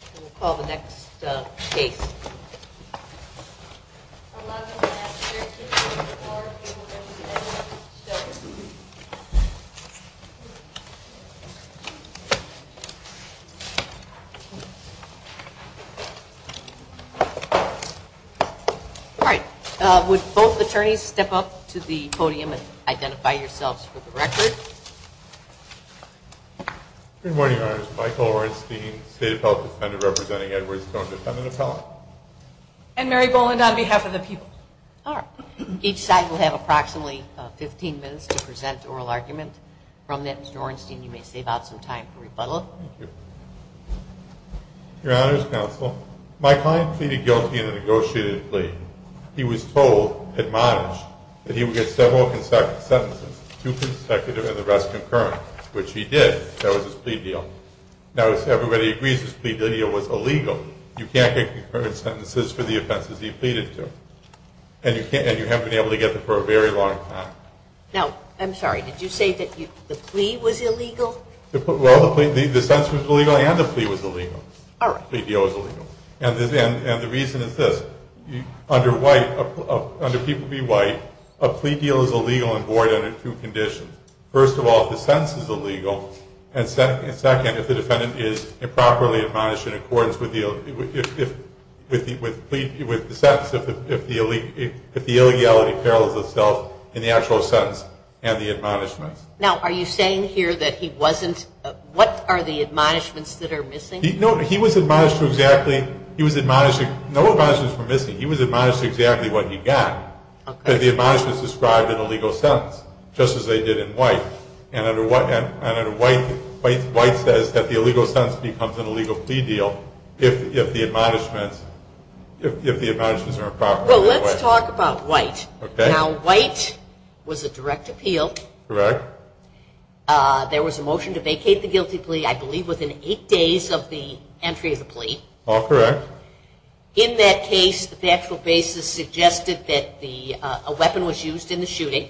and we'll call the next case. Would both attorneys step up to the podium and identify yourselves for the record. Good morning, Your Honor. This is Michael Orenstein, State of California Defendant representing Edward Stone Defendant Attorney. And Mary Boland on behalf of the people. Each side will have approximately 15 minutes to present oral arguments. From that, Mr. Orenstein, you may save out some time for rebuttal. Your Honor, as counsel, my client pleaded guilty in a negotiated plea. He was told, admonished, that he would get several sentences, two consecutive and the rest concurrent. Which he did. That was his plea deal. Now, if everybody agrees his plea deal was illegal, you can't get concurrent sentences for the offenses he pleaded to. And you haven't been able to get them for a very long time. Now, I'm sorry, did you say that the plea was illegal? Well, the sentence was illegal and the plea was illegal. All right. The plea deal was illegal. And the reason is this. Under People v. White, a plea deal is illegal and void under two conditions. First of all, the sentence is illegal. And second, if the defendant is improperly admonished in accordance with the sex, if the illegality fails itself in the actual sentence and the admonishment. Now, are you saying here that he wasn't, what are the admonishments that are missing? No, he was admonished for exactly, he was admonished, no admonishments were missing. He was admonished for exactly what he got. Okay. And the admonishment is described in a legal sense, just as they did in White. And under White, White says that the illegal sentence becomes an illegal plea deal if the admonishment, if the admonishment is improper. Well, let's talk about White. Okay. Now, White was a direct appeal. Correct. There was a motion to vacate the guilty plea, I believe, within eight days of the entry of the plea. All correct. In that case, the factual basis suggested that a weapon was used in the shooting.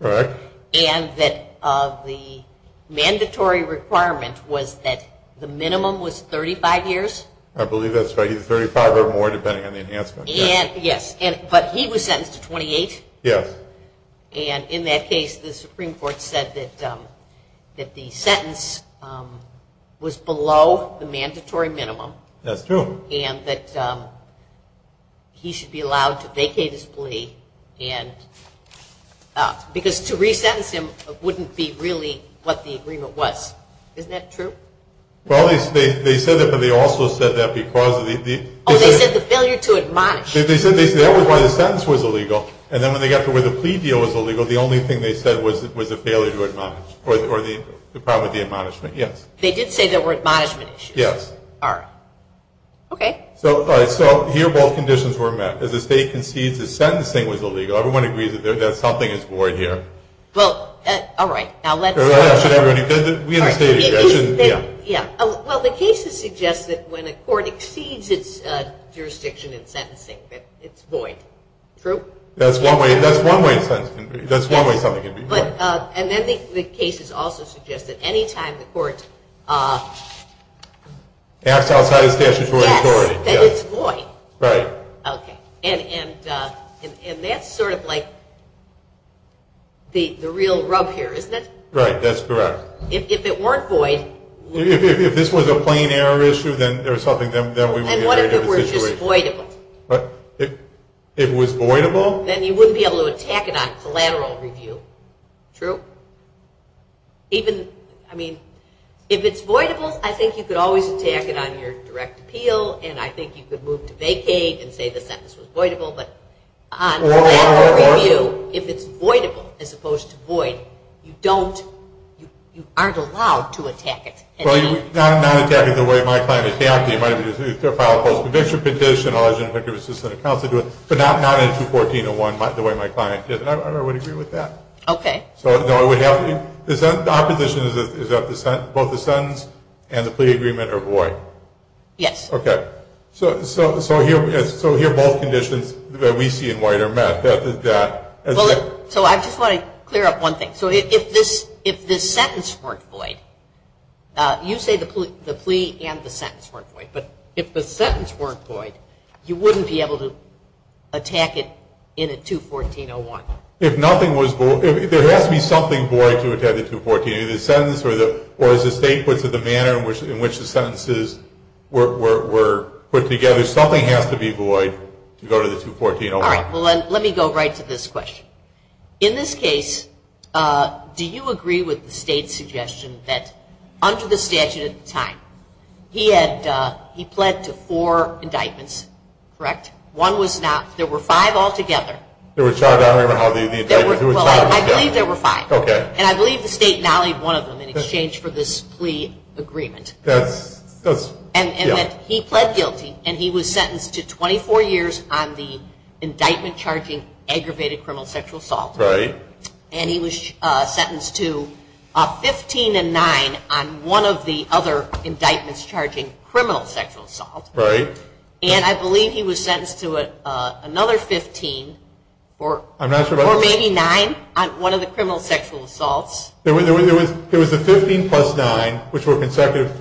Correct. And that the mandatory requirement was that the minimum was 35 years. I believe that's 35 or more, depending on the enhancement. Yes, but he was sentenced to 28. Yes. And in that case, the Supreme Court said that the sentence was below the mandatory minimum. That's true. And that he should be allowed to vacate his plea and, because to resentence him wouldn't be really what the agreement was. Is that true? Well, they said that, but they also said that because the... Oh, they said the failure to admonish. They said that was why the sentence was illegal, and then when they got to where the plea deal was illegal, the only thing they said was the failure to admonish, or the problem with the admonishment. Yes. They did say there were admonishments. Yes. All right. Okay. All right. So, here both conditions were met. If the state concedes that sentencing was illegal, everyone agrees that something is more here. Well, all right. Now, let's... Well, the cases suggest that when a court exceeds its jurisdiction in sentencing, that it's void. True? That's one way of sentencing. That's one way of coming at it. But, and then the cases also suggest that any time the court... Acts outside of statutory authority. That it's void. Right. Okay. And that's sort of like the real rub here, isn't it? Right. That's correct. If it weren't void... If this was a plain error issue, then there's something that we... And what if it were just voidable? What? If it was voidable? Then you wouldn't be able to attack it on collateral review. True? Even, I mean, if it's voidable, I think you could always attack it on your direct appeal, and I think you could move to vacate and say the sentence was voidable, but on collateral review, if it's voidable, as opposed to void, you don't... You aren't allowed to attack it. Well, you're not attacking it the way my client is. The opposite might be the case. If they're filed a post-conviction petition, alleged convicted assistant, it's not to do with... So not in 214-01, like the way my client did. I would agree with that. Okay. So, no, we have... Is that... Our condition is that both the sentence and the plea agreement are void. Yes. Okay. So here both conditions that we see in white are met. So I just want to clear up one thing. So if the sentence weren't void, you say the plea and the sentence weren't void, but if the sentence weren't void, you wouldn't be able to attack it in a 214-01. If nothing was void... There has to be something void to attack a 214-01. Or is the state put to the manner in which the sentences were put together? Something has to be void to go to the 214-01. All right. Well, let me go right to this question. In this case, do you agree with the state's suggestion that under the statute at the time, he pled to four indictments, correct? One was not... There were five altogether. There was five. I don't remember how many there were. There were five. I believe there were five. Okay. And I believe the state mallied one of them in exchange for this plea agreement. That's... And he pled guilty, and he was sentenced to 24 years on the indictment charging aggravated criminal sexual assault. Right. And he was sentenced to 15 and nine on one of the other indictments charging criminal sexual assault. Right. And I believe he was sentenced to another 15 or... I'm not sure about that. Or maybe nine on one of the criminal sexual assaults. There was a 15 plus nine, which were consecutive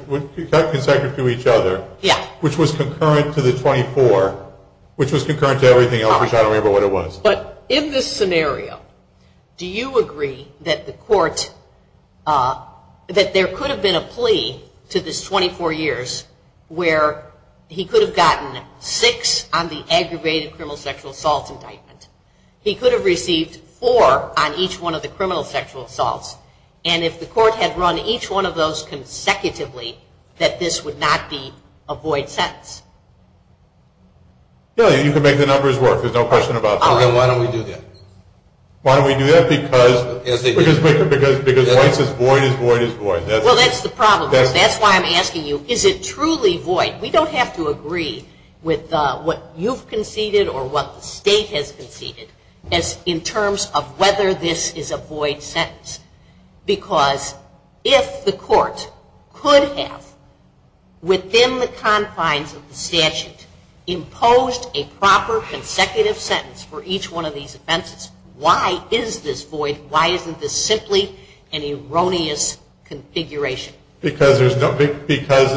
to each other. Yes. Which was concurrent to the 24, which was concurrent to everything else, which I don't remember what it was. But in this scenario, do you agree that the court, that there could have been a plea to this 24 years where he could have gotten six on the aggravated criminal sexual assault indictment? He could have received four on each one of the criminal sexual assaults. And if the court had run each one of those consecutively, that this would not be a void sentence? Yes. You can make the numbers work. There's no question about that. Okay. Why don't we do that? Why don't we do that? Because... Because... Because voice is voice is voice is voice. Well, that's the problem. That's why I'm asking you, is it truly void? We don't have to agree with what you've conceded or what the state has conceded in terms of whether this is a void sentence. Because if the court could have, within the confines of the statute, imposed a proper consecutive sentence for each one of these offenses, why is this void? Why isn't this simply an erroneous configuration? Because the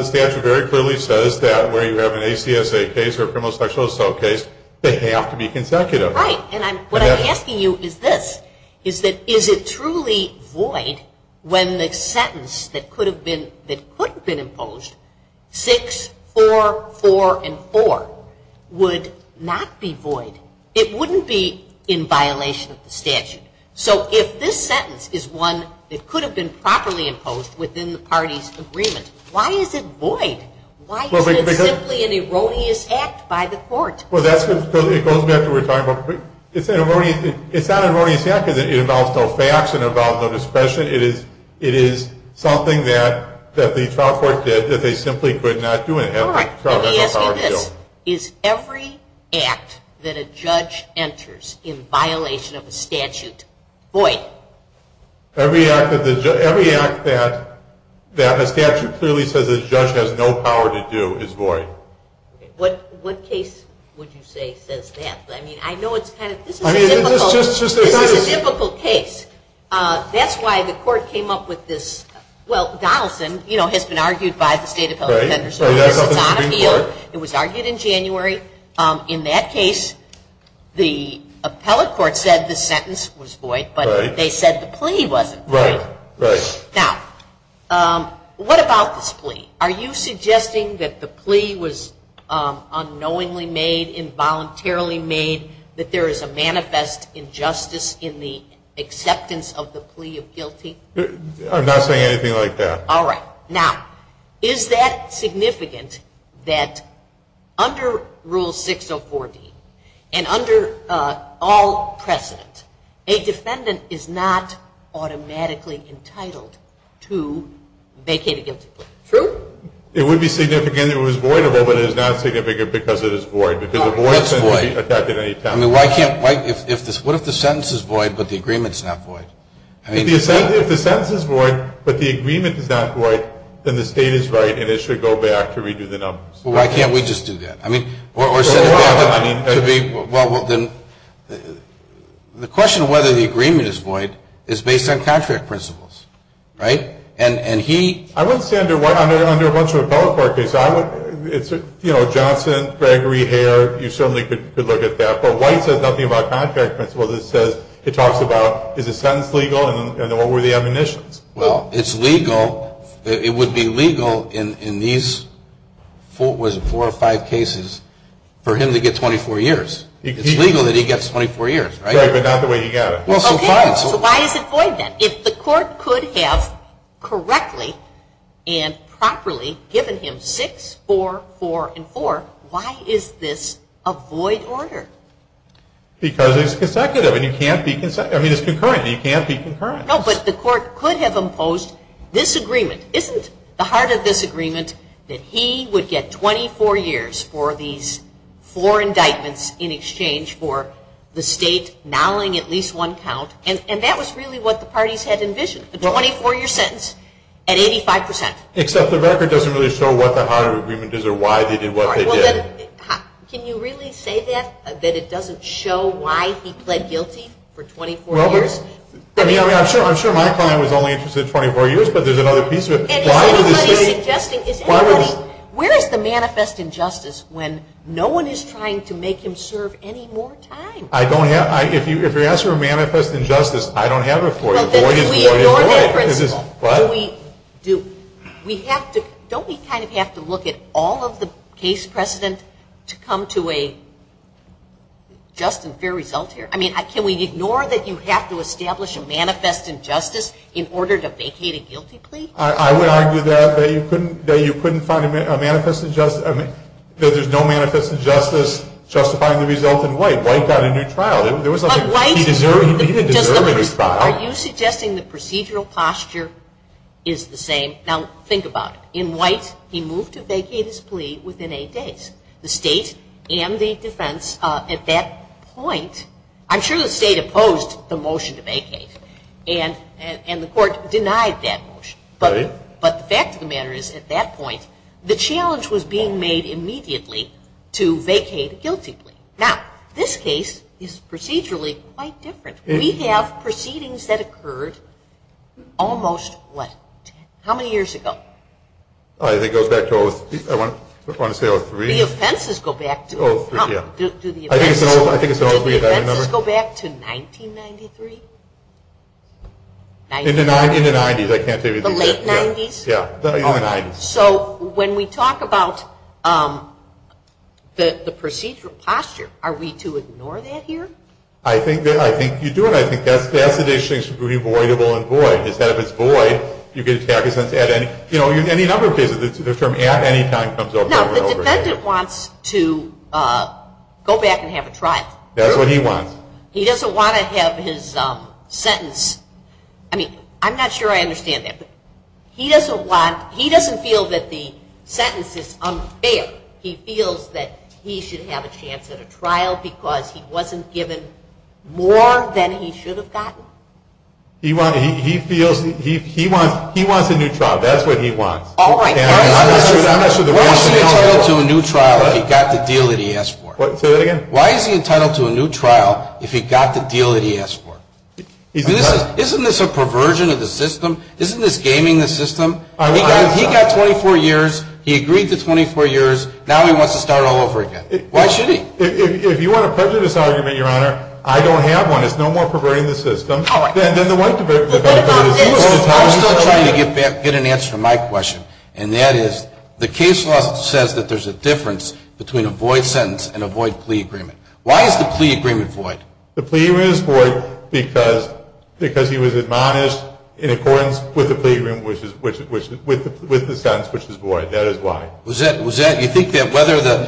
statute very clearly says that where you have an ACSA case or a criminal sexual assault case, they have to be consecutive. Right. And what I'm asking you is this. Is it truly void when the sentence that could have been imposed, six, four, four, and four, would not be void? It wouldn't be in violation of the statute. So if this sentence is one that could have been properly imposed within the party's agreement, why is it void? Why isn't it simply an erroneous act by the court? Well, that's because it goes back to what we were talking about. It's not an erroneous act because it involves no facts, it involves no discretion. It is something that the trial court did that they simply could not do. All right. I'm simply asking this. Is every act that a judge enters in violation of the statute void? Every act that a statute clearly says a judge has no power to do is void. What case would you say says that? I mean, I know it's kind of a difficult case. That's why the court came up with this. Well, Donaldson, you know, has been argued by the state appellate court. It was argued in January. In that case, the appellate court said the sentence was void, but they said the plea wasn't void. Now, what about this plea? Are you suggesting that the plea was unknowingly made, involuntarily made, that there is a manifest injustice in the acceptance of the plea of guilty? I'm not saying anything like that. All right. Now, is that significant that under Rule 604B and under all precedent, a defendant is not automatically entitled to vacate against it? True. It would be significant if it was void, but it is not significant because it is void. If it were void, it wouldn't be protected at any time. What if the sentence is void but the agreement is not void? If the sentence is void but the agreement is not void, then the state is right and it should go back to redo the numbers. Why can't we just do that? The question of whether the agreement is void is based on contract principles. Right? And he – I wouldn't say under what – under a bunch of above court cases. You know, Johnson, Gregory, Hare, you certainly could look at that. But White says nothing about contract principles. It says – it talks about is the sentence legal and what were the admonitions? Well, it's legal – it would be legal in these four or five cases for him to get 24 years. It's legal that he gets 24 years. Right, but not the way he got it. Okay. So why is it void then? If the court could have correctly and properly given him 6, 4, 4, and 4, why is this a void order? Because it's consecutive. He can't be – I mean, it's concurrent. He can't be concurrent. No, but the court could have imposed this agreement. Isn't the heart of this agreement that he would get 24 years for these four indictments in exchange for the state nulling at least one count? And that was really what the parties had envisioned. The 24-year sentence at 85%. Except the record doesn't really show what the heart of the agreement is or why they did what they did. Can you really say that, that it doesn't show why he pled guilty for 24 years? Well, I mean, I'm sure my client was only interested in 24 years, but there's another piece of it. Why would he say – Where is the manifest injustice when no one is trying to make him serve any more time? I don't have – if you ask for a manifest injustice, I don't have it for you. We have to – don't we kind of have to look at all of the case precedent to come to a just and fair result here? I mean, can we ignore that you have to establish a manifest injustice in order to vacate a guilty plea? I would argue that, that you couldn't find a manifest injustice – that there's no manifest injustice justifying the result in White. White got a new trial. White got a new trial. Are you suggesting the procedural posture is the same? Now, think about it. In White, he moved to vacate his plea within eight days. The state and the defense at that point – I'm sure the state opposed the motion to vacate, and the court denied that motion. But the fact of the matter is, at that point, the challenge was being made immediately to vacate guiltily. Now, this case is procedurally quite different. We have proceedings that occurred almost – what? How many years ago? I think it goes back to – I just want to say – The offenses go back to – Oh, yeah. Do the offenses go back to 1993? In the 90s. The late 90s? Yeah, the early 90s. So, when we talk about the procedural posture, are we to ignore that here? I think you do, and I think that definition should be voidable and void. Instead of it's void, you get a statute that says, you know, any number of cases, the term at any time comes over and over again. No, the defendant wants to go back and have a trial. That's what he wants. He doesn't want to have his sentence – I mean, I'm not sure I understand that. He doesn't want – he doesn't feel that the sentence is unfair. He feels that he should have a chance at a trial because he wasn't given more than he should have gotten. He feels – he wants a new trial. That's what he wants. All right. Why is he entitled to a new trial if he got the deal that he asked for? Say that again? Why is he entitled to a new trial if he got the deal that he asked for? Isn't this a perversion of the system? Isn't this gaming the system? He got 24 years. He agreed to 24 years. Now he wants to start all over again. Why should he? If you want to pressure this argument, Your Honor, I don't have one. It's no more perversion of the system. All right. I'm still trying to get an answer to my question, and that is the case law says that there's a difference between a void sentence and a void plea agreement. Why is the plea agreement void? The plea agreement is void because he was admonished in accordance with the sentence, which is void. That is why. Was that – you think that whether the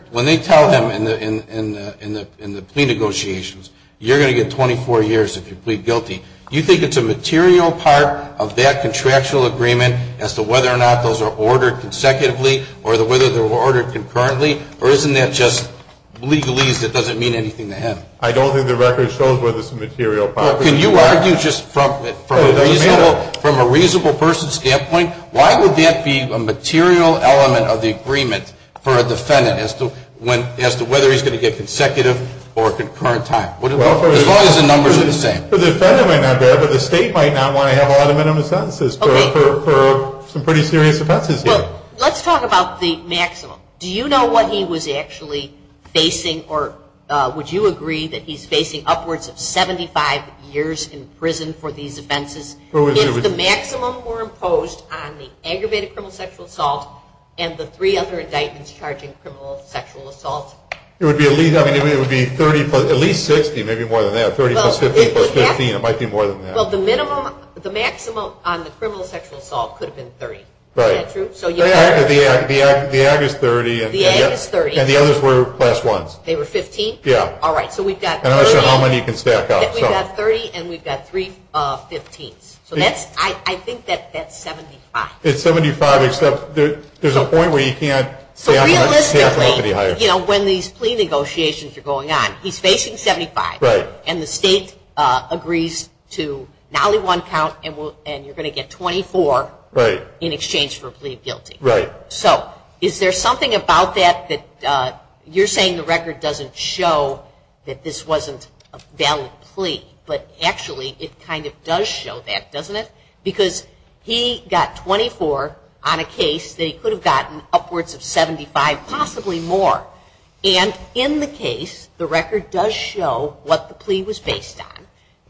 – when they tell them in the plea negotiations, you're going to get 24 years if you plead guilty, you think it's a material part of that contractual agreement as to whether or not those are ordered consecutively or whether they're ordered concurrently? Or isn't that just legalese? It doesn't mean anything to him. I don't think the record shows whether it's a material part. Can you argue just from a reasonable person's standpoint? Why would that be a material element of the agreement for a defendant as to whether he's going to get consecutive or concurrent time? What are the numbers going to say? The defendant might not care, but the state might not want to have all the minimum sentences for some pretty serious offenses here. Let's talk about the maximum. Do you know what he was actually facing, or would you agree that he's facing upwards of 75 years in prison for these offenses? If the maximum were imposed on the aggravated criminal sexual assault and the three other indictments charging criminal sexual assault. It would be at least 60, maybe more than that, 30 plus 50 plus 50. It might be more than that. The maximum on the criminal sexual assault could have been 30. Is that true? The ag is 30. The ag is 30. And the others were plus ones. They were 15? Yeah. All right. So we've got 30 and we've got 15. I think that's 75. It's 75. There's a point where you can't stack them up any higher. So realistically, when these plea negotiations are going on, he's facing 75. Right. And the state agrees to not only one count and you're going to get 24 in exchange for plea of guilty. Right. So is there something about that that you're saying the record doesn't show that this wasn't a valid plea, but actually it kind of does show that, doesn't it? Because he got 24 on a case. They could have gotten upwards of 75, possibly more. And in the case, the record does show what the plea was based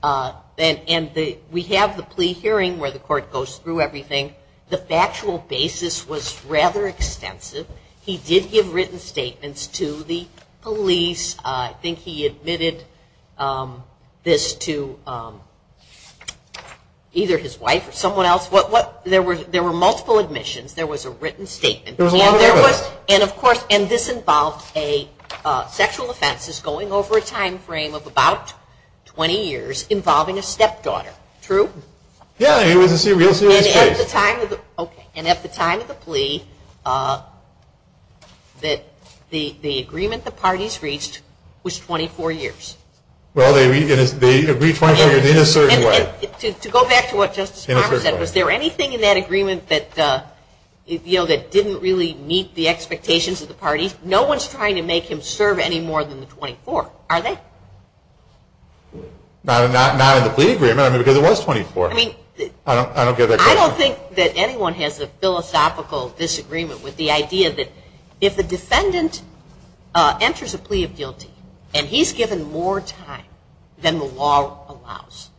on. And we have the plea hearing where the court goes through everything. The factual basis was rather extensive. He did give written statements to the police. I think he admitted this to either his wife or someone else. There were multiple admissions. There was a written statement. And, of course, this involved sexual offenses going over a time frame of about 20 years involving a stepdaughter. True? Yeah. And at the time of the plea, the agreement the parties reached was 24 years. Well, they agreed 24 years in a certain way. To go back to what Justice Harper said, was there anything in that agreement that didn't really meet the expectations of the party? No one's trying to make him serve any more than 24, are they? Not in the plea agreement, because it was 24. I don't think that anyone has a philosophical disagreement with the idea that if a defendant enters a plea of guilty and he's given more time than the law allows.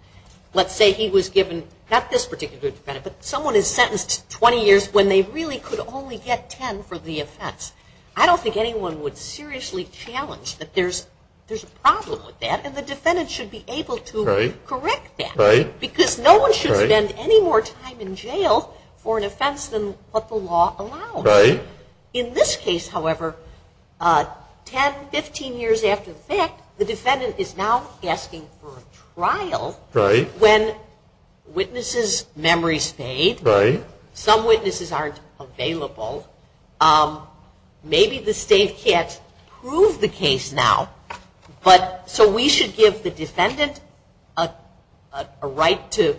Let's say he was given, not this particular defendant, but someone is sentenced to 20 years when they really could only get 10 for the offense. I don't think anyone would seriously challenge that there's a problem with that, and the defendant should be able to correct that, because no one should spend any more time in jail for an offense than what the law allows. In this case, however, 10, 15 years after the fact, the defendant is now asking for a trial, when witnesses' memories fade. Some witnesses aren't available. Maybe the state can't prove the case now, so we should give the defendant a right to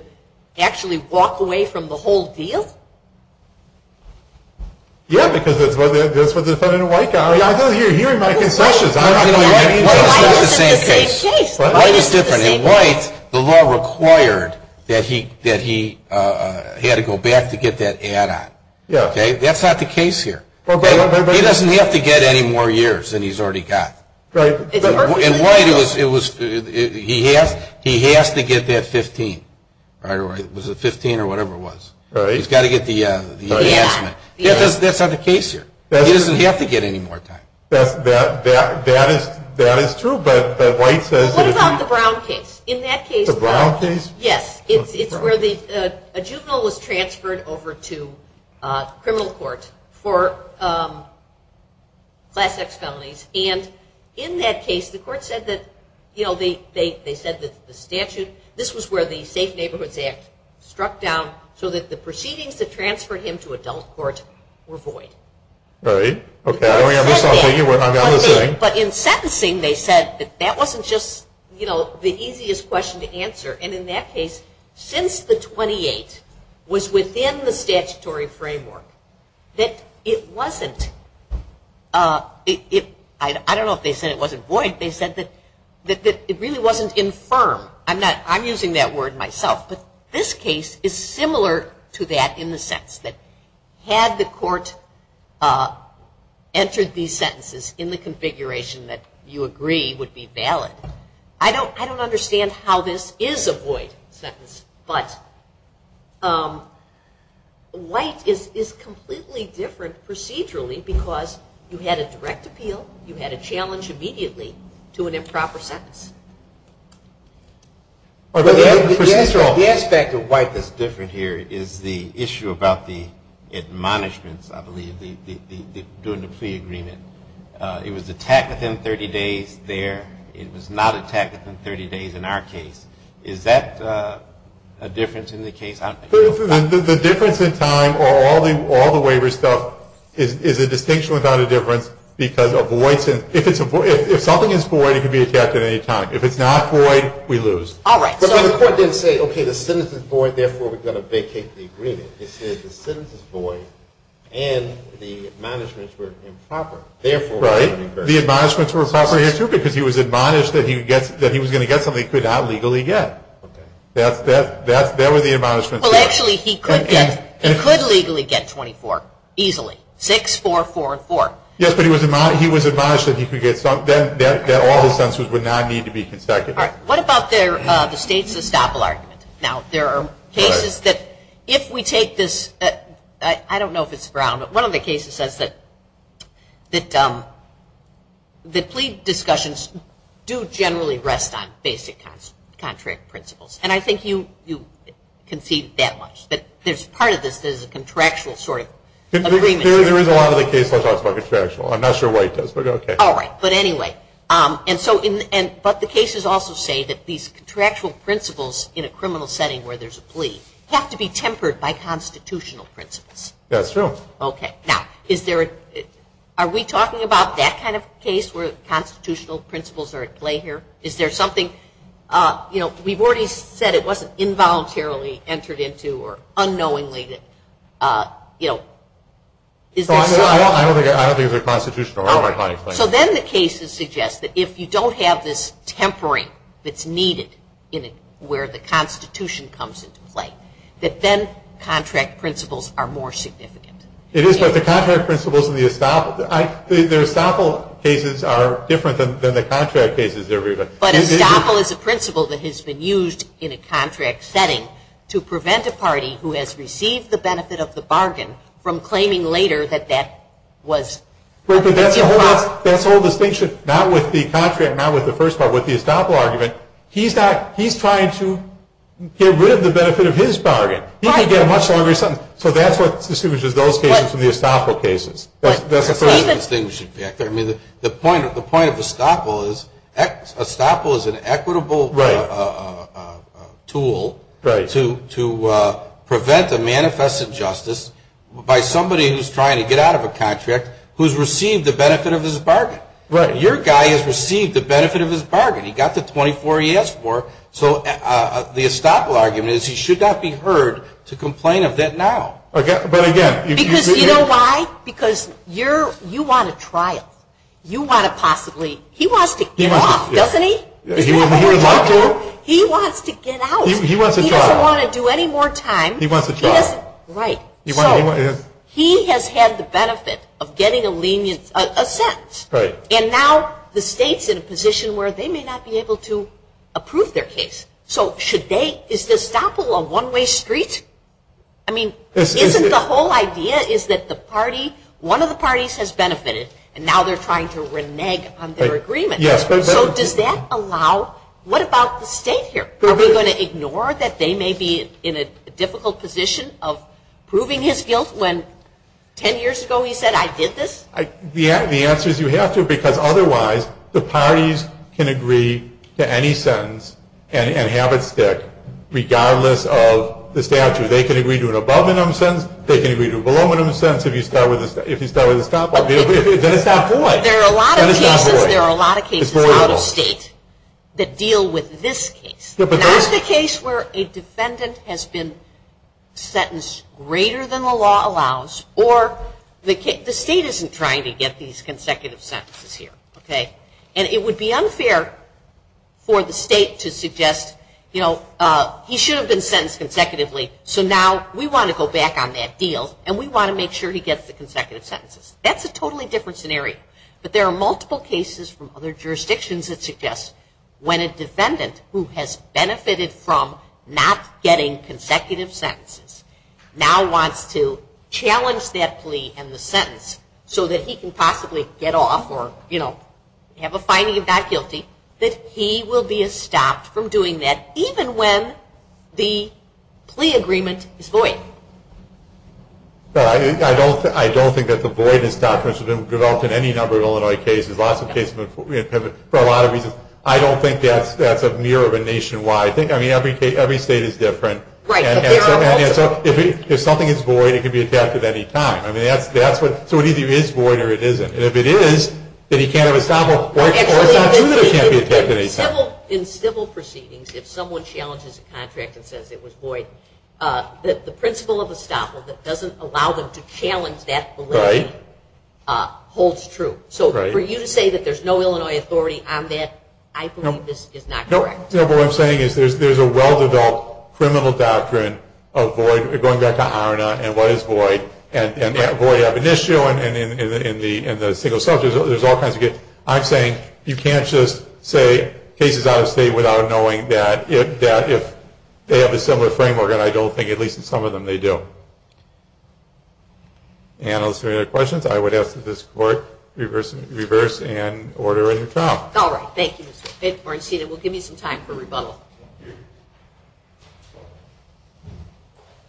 actually walk away from the whole deal? Yes, because that's what the defendant would like to argue. I know you're hearing my concessions. It's the same case. It's different. In White, the law required that he had to go back to get that add-on. That's not the case here. He doesn't have to get any more years than he's already got. In White, he has to get that 15. Was it 15 or whatever it was? He's got to get the add-on. That's not the case here. He doesn't have to get any more time. That is true. What about the Brown case? The Brown case? Yes. It's where a juvenile was transferred over to criminal court for class X felonies, and in that case, the court said that the statute, this was where the Safe Neighborhood Act struck down so that the proceedings that transferred him to adult court were void. Okay, I understand what you're saying. But in sentencing, they said that that wasn't just the easiest question to answer, and in that case, since the 28th was within the statutory framework, that it wasn't, I don't know if they said it wasn't void, they said that it really wasn't infirm. I'm using that word myself. But this case is similar to that in the sense that had the court entered these sentences in the configuration that you agree would be valid, I don't understand how this is a void sentence, but white is completely different procedurally because you had a direct appeal, you had a challenge immediately to an improper sentence. The aspect of white that's different here is the issue about the admonishments, I believe, during the pre-agreement. It was attacked within 30 days there. It was not attacked within 30 days in our case. Is that a difference in the case? The difference in time or all the waiver stuff is a distinction without a difference because if something is void, it can be attacked at any time. If it's not void, we lose. All right. But the court didn't say, okay, the sentence is void, therefore we've got to vacate the agreement. It says the sentence is void and the admonishments were improper. Right. The admonishments were improper because he was admonished that he was going to get something he could not legally get. That was the admonishment there. Well, actually, he could legally get 24 easily, 6, 4, 4, and 4. Yes, but he was admonished that all the sentences would not need to be consecutive. All right. What about the states of the Sappilard? Now, there are cases that if we take this, I don't know if it's Brown, but one of the cases says that the plea discussions do generally rest on basic contract principles, and I think you concede that much, that there's part of this that is a contractual sort of agreement. There is a lot of the cases that are contractual. I'm not sure why it says that, but okay. All right. But anyway, but the cases also say that these contractual principles in a criminal setting where there's a plea have to be tempered by constitutional principles. That's true. Okay. Now, are we talking about that kind of case where constitutional principles are at play here? Is there something? We've already said it wasn't involuntarily entered into or unknowingly. I don't think they're constitutional. All right. So then the cases suggest that if you don't have this tempering that's needed where the Constitution comes into play, that then contract principles are more significant. It is. So the contract principles and the estoppel cases are different than the contract cases. But estoppel is a principle that has been used in a contract setting to prevent a party who has received the benefit of the bargain from claiming later that that was. That's the whole distinction, not with the contract, not with the first part, with the estoppel argument. He's trying to get rid of the benefit of his bargain. He can get a much longer sentence. So that's what distinguishes those cases from the estoppel cases. That's the thing. I mean, the point of estoppel is estoppel is an equitable tool to prevent the manifest injustice by somebody who's trying to get out of a contract who's received the benefit of his bargain. Your guy has received the benefit of his bargain. He got the 24 he asked for. So the estoppel argument is he should not be heard to complain of that now. But, again, if you do that. You know why? Because you want a trial. You want to possibly. He wants to give up, doesn't he? He wants to get out. He doesn't want to do any more time. He wants a trial. Right. He has had the benefit of getting a lenient sentence. Right. And now the state's in a position where they may not be able to approve their case. So should they? Is estoppel a one-way street? I mean, isn't the whole idea is that the party, one of the parties has benefited, and now they're trying to renege on their agreement. Yes. So does that allow – what about the state here? Are we going to ignore that they may be in a difficult position of proving his guilt when 10 years ago he said, I did this? The answer is you have to because otherwise the parties can agree to any sentence and have it sit regardless of the statute. They can agree to an abominable sentence. They can agree to a voluminous sentence if you start with estoppel. Then it's not fair. There are a lot of cases. A lot of states that deal with this case. Not the case where a defendant has been sentenced greater than the law allows or the state isn't trying to get these consecutive sentences here. And it would be unfair for the state to suggest, you know, he should have been sentenced consecutively, so now we want to go back on that deal and we want to make sure he gets the consecutive sentences. That's a totally different scenario. But there are multiple cases from other jurisdictions that suggest when a defendant who has benefited from not getting consecutive sentences now wants to challenge that plea and the sentence so that he can possibly get off or, you know, have a finding of not guilty, that he will be estopped from doing that even when the plea agreement is void. I don't think that the void has developed in any number of Illinois cases. A lot of cases, for a lot of reasons, I don't think that's a mirror of a nationwide thing. I mean, every state is different. Right. And so if something is void, it can be assessed at any time. I mean, so either it is void or it isn't. And if it is, then he can't have estoppel or something that can't be assessed at any time. In civil proceedings, if someone challenges a contract and says it was void, the principle of estoppel that doesn't allow them to challenge that belief holds true. So for you to say that there's no Illinois authority on that, I believe this is not correct. No, but what I'm saying is there's a well-developed criminal doctrine of void, going back to ARNA and what is void, and void of an issue and the single sentence. There's all kinds of cases. I'm saying you can't just say case is out of state without knowing that if they have a similar framework, and I don't think at least in some of them they do. Ann, are there any other questions? I would ask that this Court reverse and order a new trial. All right. Thank you. We'll give you some time for rebuttal. Good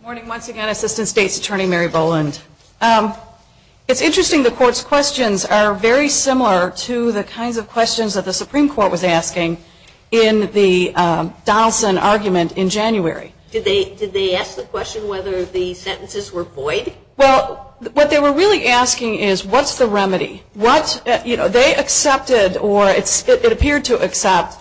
morning once again, Assistant State's Attorney Mary Boland. It's interesting the Court's questions are very similar to the kinds of questions that the Supreme Court was asking in the Donaldson argument in January. Did they ask the question whether the sentences were void? Well, what they were really asking is what's the remedy? They accepted or it appeared to accept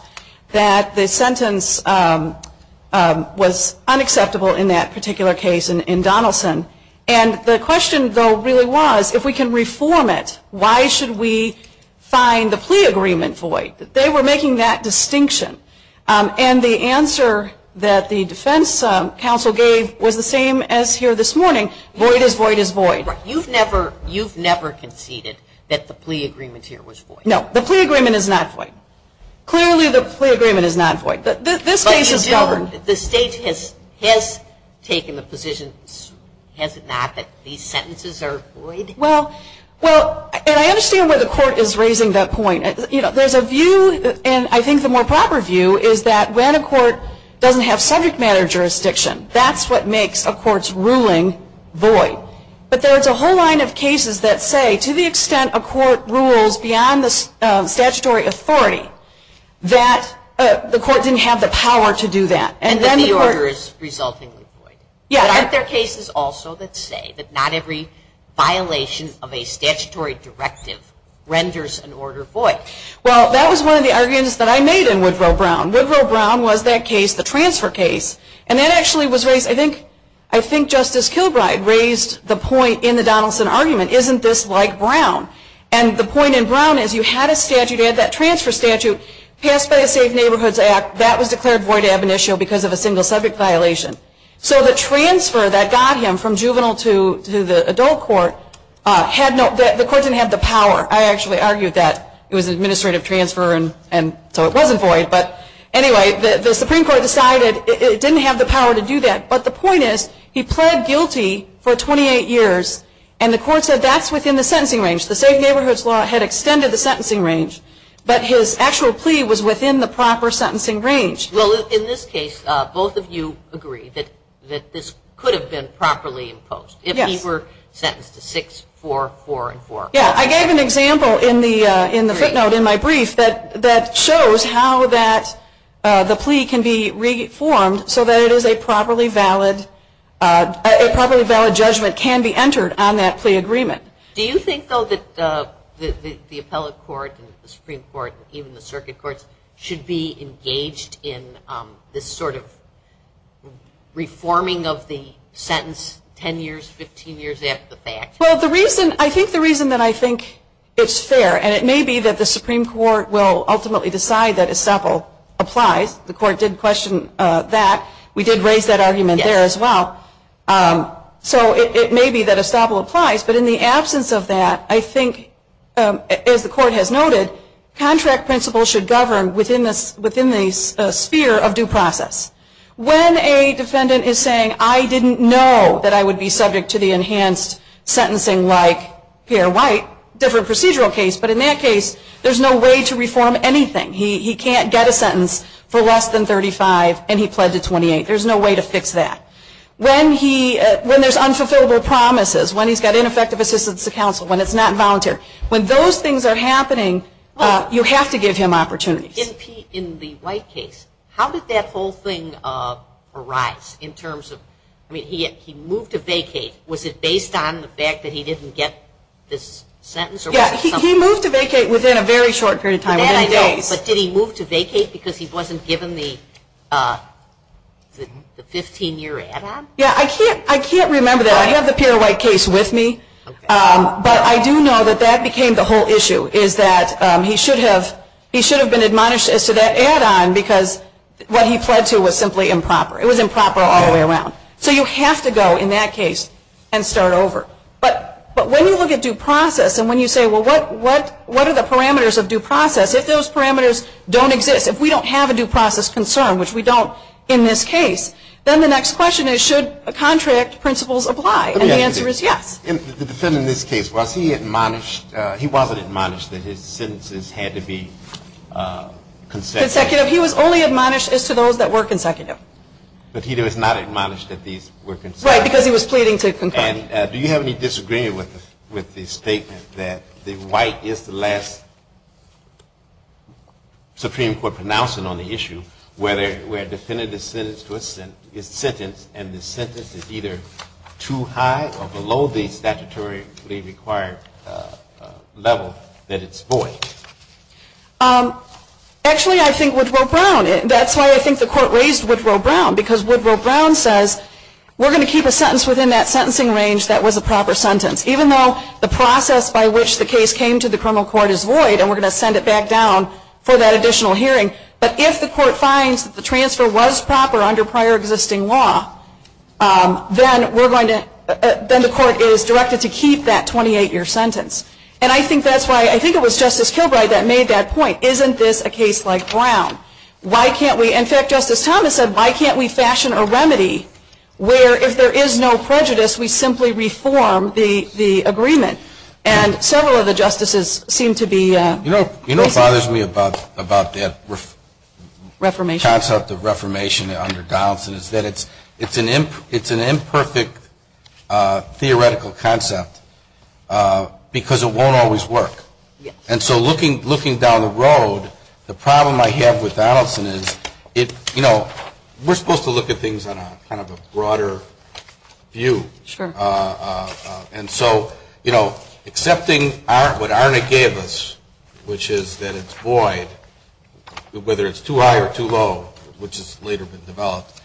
that the sentence was unacceptable in that particular case in Donaldson, and the question, though, really was if we can reform it, why should we find the plea agreement void? They were making that distinction, and the answer that the defense counsel gave was the same as here this morning, void is void is void. Right. You've never conceded that the plea agreement here was void? No. The plea agreement is not void. Clearly the plea agreement is not void. Ladies and gentlemen, the State has taken a position, has it not, that these sentences are void? Well, and I understand why the Court is raising that point. There's a view, and I think the more proper view is that when a court doesn't have subject matter jurisdiction, that's what makes a court's ruling void. But there's a whole line of cases that say to the extent a court rules beyond the statutory authority, that the court didn't have the power to do that. And then the order is resulting in void. Yeah. Aren't there cases also that say that not every violation of a statutory directive renders an order void? Well, that was one of the arguments that I made in Woodrow Brown. Woodrow Brown was that case, the transfer case, and that actually was raised, I think Justice Kilbride raised the point in the Donaldson argument, isn't this like Brown? And the point in Brown is you had a statute, you had that transfer statute, passed by the Safe Neighborhoods Act, that was declared void ab initio because of a single subject violation. So the transfer that got him from juvenile to the adult court, the court didn't have the power. I actually argued that it was administrative transfer and so it wasn't void. But anyway, the Supreme Court decided it didn't have the power to do that. But the point is he pled guilty for 28 years, and the court said that's within the sentencing range. The Safe Neighborhoods Law had extended the sentencing range, but his actual plea was within the proper sentencing range. Well, in this case, both of you agree that this could have been properly imposed if he were sentenced to 6, 4, 4, and 4. Yeah, I gave an example in the footnote in my brief that shows how the plea can be reformed so that a properly valid judgment can be entered on that plea agreement. Do you think, though, that the appellate court and the Supreme Court, even the circuit courts, should be engaged in this sort of reforming of the sentence 10 years, 15 years after the fact? Well, the reason, I think the reason that I think it's fair, and it may be that the Supreme Court will ultimately decide that estoppel applies. The court did question that. We did raise that argument there as well. So it may be that estoppel applies, but in the absence of that, I think, as the court has noted, contract principles should govern within the sphere of due process. When a defendant is saying, I didn't know that I would be subject to the enhanced sentencing like Pierre White, different procedural case, but in that case, there's no way to reform anything. He can't get a sentence for less than 35, and he pledged at 28. There's no way to fix that. When there's unfulfillable promises, when he's got ineffective assistance to counsel, when it's not voluntary, when those things are happening, you have to give him opportunities. In the White case, how did that whole thing arise in terms of, I mean, he moved to vacate. Was it based on the fact that he didn't get this sentence? Yeah, he moved to vacate within a very short period of time. But did he move to vacate because he wasn't given the 15-year add-on? Yeah, I can't remember that. I have the Pierre White case with me. But I do know that that became the whole issue is that he should have been admonished as to that add-on because what he pled to was simply improper. It was improper all the way around. So you have to go in that case and start over. But when you look at due process and when you say, well, what are the parameters of due process, if those parameters don't exist, if we don't have a due process concern, which we don't in this case, then the next question is, should contract principles apply? And the answer is yes. In this case, was he admonished? He wasn't admonished that his sentences had to be consecutive. Consecutive. He was only admonished as to those that were consecutive. But he was not admonished that these were consecutive. Right, because he was pleading to consecutive. Do you have any disagreement with the statement that the White is the last Supreme Court pronouncer on the issue where a defendant is sentenced to a sentence and the sentence is either too high or below the statutory required level that it's void? Actually, I think Woodrow Brown, that's why I think the court raised Woodrow Brown, because Woodrow Brown says we're going to keep a sentence within that sentencing range that was a proper sentence, even though the process by which the case came to the criminal court is void and we're going to send it back down for that additional hearing. But if the court finds the transfer was proper under prior existing law, then the court is directed to keep that 28-year sentence. And I think that's why, I think it was Justice Kilbride that made that point. Isn't this a case like Brown? In fact, Justice Thomas said, why can't we fashion a remedy where if there is no prejudice, we simply reform the agreement? And several of the justices seem to be— You know what bothers me about the concept of reformation under Donaldson is that it's an imperfect theoretical concept because it won't always work. And so looking down the road, the problem I have with Donaldson is, you know, we're supposed to look at things on kind of a broader view. And so, you know, accepting what ARNA gave us, which is that it's void, whether it's too high or too low, which has later been developed,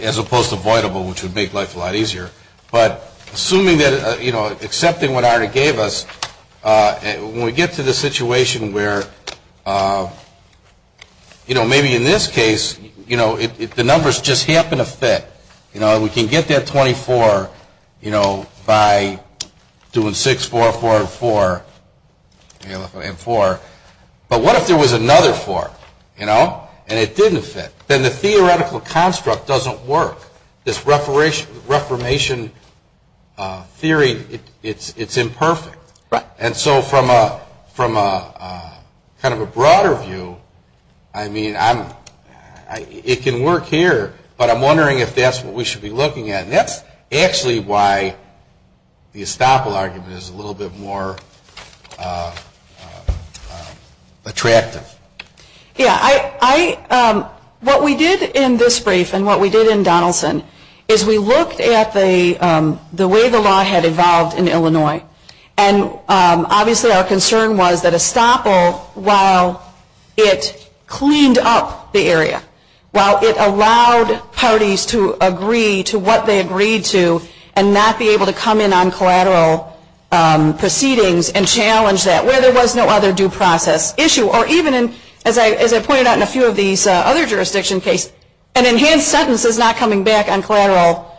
as opposed to voidable, which would make life a lot easier. But assuming that, you know, accepting what ARNA gave us, when we get to the situation where, you know, maybe in this case, you know, if the numbers just happen to fit, you know, we can get that 24, you know, by doing 6-4-4-4 and 4. But what if there was another 4, you know, and it didn't fit? Then the theoretical construct doesn't work. This reformation theory, it's imperfect. And so from kind of a broader view, I mean, it can work here, but I'm wondering if that's what we should be looking at. And that's actually why the estoppel argument is a little bit more attractive. Yeah, what we did in this brief and what we did in Donaldson is we looked at the way the law had evolved in Illinois. And obviously our concern was that estoppel, while it cleaned up the area, while it allowed parties to agree to what they agreed to and not be able to come in on collateral proceedings and challenge that, where there was no other due process issue. Or even, as I pointed out in a few of these other jurisdiction cases, an enhanced sentence is not coming back on collateral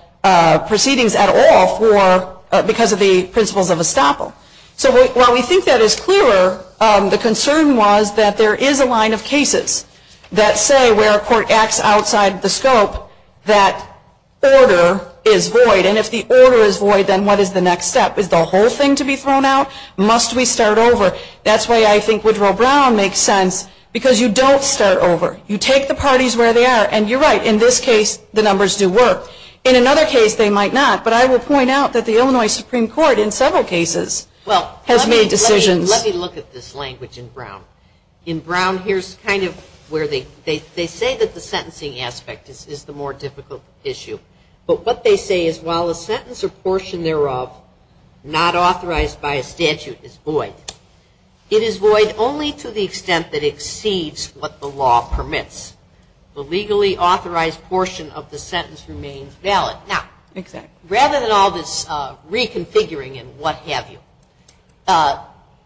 proceedings at all because of the principles of estoppel. So while we think that is clearer, the concern was that there is a line of cases that say, where a court acts outside the scope, that order is void. And if the order is void, then what is the next step? Is the whole thing to be thrown out? Must we start over? That's why I think Woodrow Brown makes sense, because you don't start over. You take the parties where they are, and you're right. In this case, the numbers do work. In another case, they might not. But I will point out that the Illinois Supreme Court, in several cases, has made decisions. Well, let me look at this language in Brown. In Brown, here's kind of where they say that the sentencing aspect is the more difficult issue. But what they say is, while a sentence or portion thereof not authorized by a statute is void, it is void only to the extent that it exceeds what the law permits. The legally authorized portion of the sentence remains valid. Now, rather than all this reconfiguring and what have you,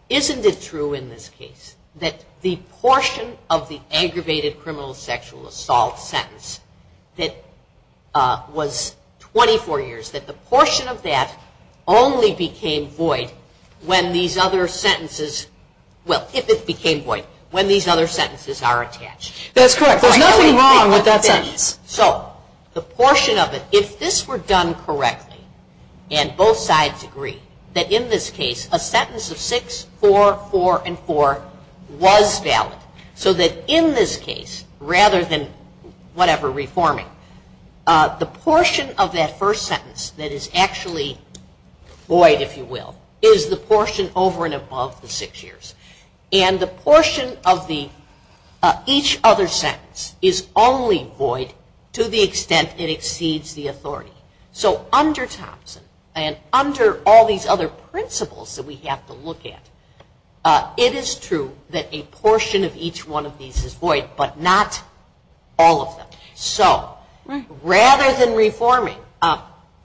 isn't it true in this case that the portion of the aggravated criminal sexual assault sentence that was 24 years, that the portion of that only became void when these other sentences, well, if it became void, when these other sentences are attached? That's correct. There's nothing wrong with that sentence. So, the portion of it, if this were done correctly, and both sides agree, that in this case, a sentence of 6, 4, 4, and 4 was valid. So, that in this case, rather than whatever reforming, the portion of that first sentence that is actually void, if you will, is the portion over and above the 6 years. And the portion of each other sentence is only void to the extent it exceeds the authority. So, under Thompson, and under all these other principles that we have to look at, it is true that a portion of each one of these is void, but not all of them. So, rather than reforming,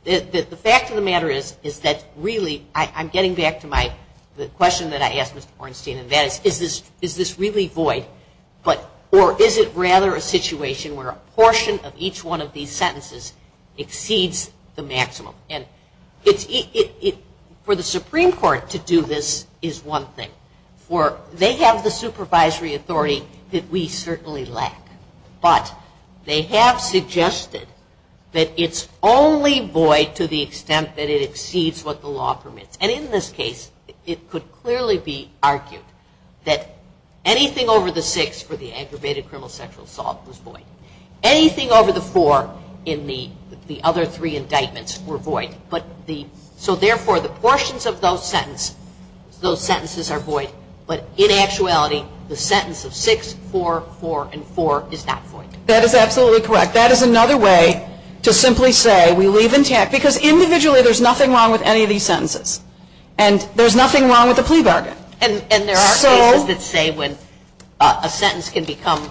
the fact of the matter is that really, I'm getting back to the question that I asked Ms. Bornstein, is this really void, or is it rather a situation where a portion of each one of these sentences exceeds the maximum? And for the Supreme Court to do this is one thing. They have the supervisory authority that we certainly lack, but they have suggested that it's only void to the extent that it exceeds what the law permits. And in this case, it could clearly be argued that anything over the 6 or anything over the 4 in the other three indictments were void. So, therefore, the portions of those sentences are void, but in actuality, the sentence of 6, 4, 4, and 4 is not void. That is absolutely correct. That is another way to simply say we leave intact, because individually there's nothing wrong with any of these sentences, and there's nothing wrong with the plea bargain. And there are cases that say a sentence can become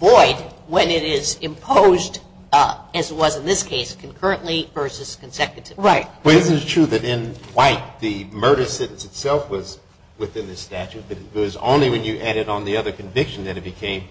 void when it is imposed, as it was in this case, concurrently versus consecutively. Right. Well, it is true that in White, the murder sentence itself was within the statute, but it was only when you added on the other conviction that it became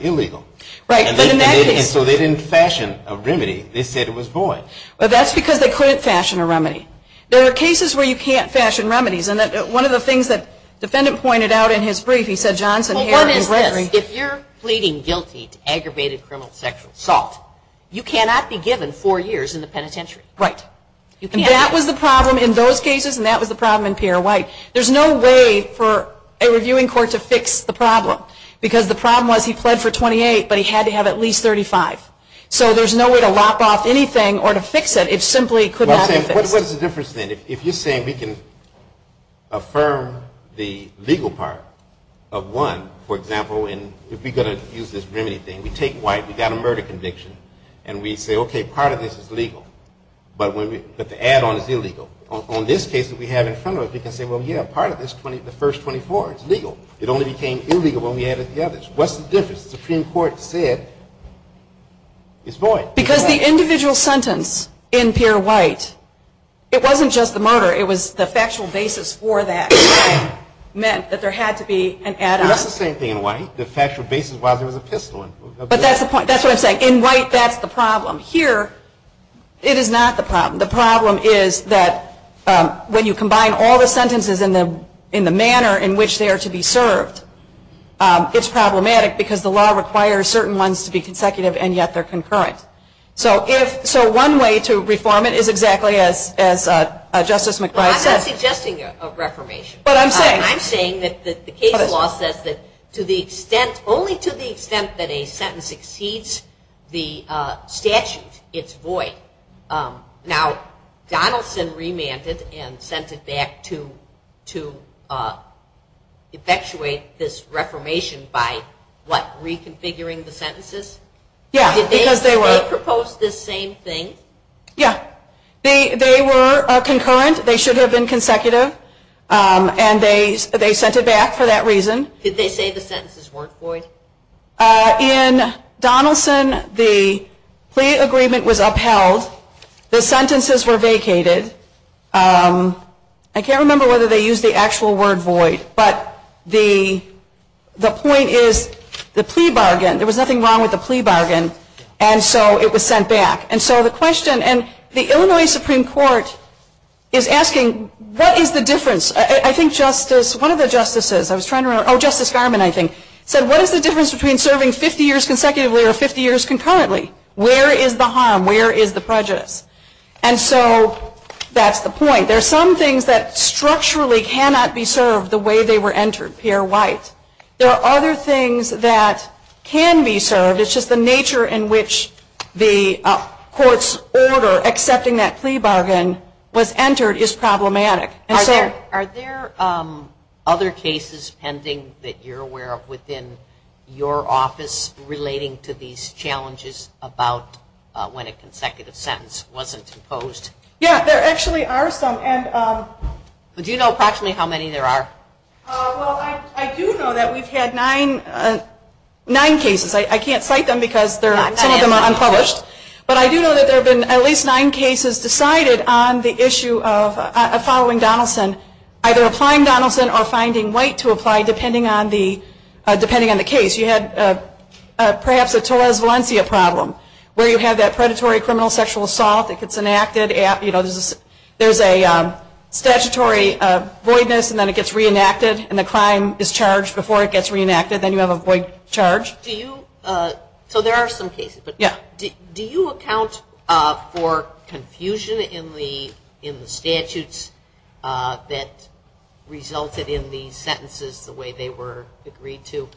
illegal. Right. And so they didn't fashion a remedy. They said it was void. Well, that's because they couldn't fashion a remedy. There are cases where you can't fashion remedies, and one of the things that the defendant pointed out in his brief, he said, Johnson, Harris, and Gregory. If you're pleading guilty to aggravated criminal sexual assault, you cannot be given four years in the penitentiary. Right. That was the problem in those cases, and that was the problem in Pierre White. There's no way for a reviewing court to fix the problem, because the problem was he pled for 28, but he had to have at least 35. So there's no way to lop off anything or to fix it. It simply could not be fixed. What's the difference then? If you're saying we can affirm the legal part of one, for example, and if we're going to use this remedy thing, we take White, we've got a murder conviction, and we say, okay, part of this is legal, but the add-on is illegal. On this case that we have in front of us, you can say, well, yeah, part of this, the first 24 is legal. It only became illegal when we added the others. What's the difference? The Supreme Court said it's void. Because the individual sentence in Pierre White, it wasn't just the murder, it was the factual basis for that meant that there had to be an add-on. It's not the same thing in White. The factual basis was there was a pistol involved. But that's the point. That's what I'm saying. In White, that's the problem. Here, it is not the problem. The problem is that when you combine all the sentences in the manner in which they are to be served, it's problematic because the law requires certain ones to be consecutive, and yet they're concurrent. So one way to reform it is exactly as Justice McBride said. I'm not suggesting a reformation. I'm saying that the case law says that only to the extent that a sentence exceeds the statute, it's void. Now, Donaldson remanded and sent it back to effectuate this reformation by, what, reconfiguring the sentences? Yes, because they were. Did they propose the same thing? Yes. They were concurrent. They should have been consecutive. And they sent it back for that reason. Did they say the sentences weren't void? In Donaldson, the plea agreement was upheld. The sentences were vacated. I can't remember whether they used the actual word void, but the point is the plea bargain. There was nothing wrong with the plea bargain, and so it was sent back. And so the question, and the Illinois Supreme Court is asking, what is the difference? One of the justices, Justice Garmon, I think, said, what is the difference between serving 50 years consecutively or 50 years concurrently? Where is the harm? Where is the prejudice? And so that's the point. There's some things that structurally cannot be served the way they were entered, Pierre White. There are other things that can be served. It's just the nature in which the court's order accepting that plea bargain was entered is problematic. Are there other cases pending that you're aware of within your office relating to these challenges about when a consecutive sentence wasn't proposed? Yeah, there actually are some. Do you know approximately how many there are? Well, I do know that we've had nine cases. I can't cite them because some of them are unpublished. But I do know that there have been at least nine cases decided on the issue of following Donaldson, either applying Donaldson or finding White to apply depending on the case. You had perhaps a Torres Valencia problem where you have that predatory criminal sexual assault. It gets enacted. There's a statutory voidness, and then it gets reenacted, and the crime is charged before it gets reenacted. Then you have a void charge. So there are some cases. Do you account for confusion in the statutes that resulted in these sentences the way they were agreed to?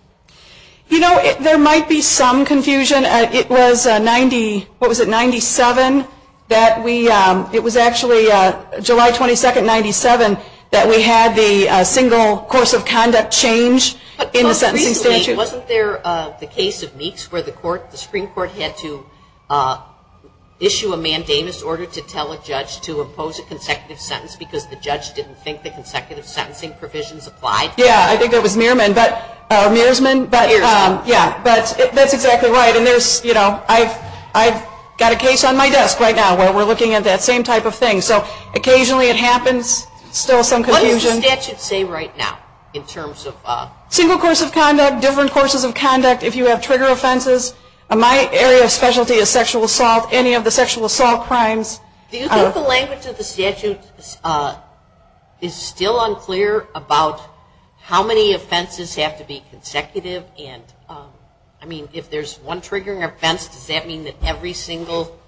You know, there might be some confusion. It was 97, it was actually July 22, 97, that we had the single course of conduct change in the sentencing statute. Wasn't there the case of Meeks where the Supreme Court had to issue a mandamus order to tell a judge to impose a consecutive sentence because the judge didn't think the consecutive sentencing provisions applied? Yeah, I think it was Mearsman, but that's exactly right. And I've got a case on my desk right now where we're looking at that same type of thing. So occasionally it happens, still some confusion. What does the statute say right now in terms of? Single course of conduct, different courses of conduct, if you have trigger offenses. My area of specialty is sexual assault, any of the sexual assault crimes. Do you think the language of the statute is still unclear about how many offenses have to be consecutive? I mean, if there's one triggering offense, does that mean that every single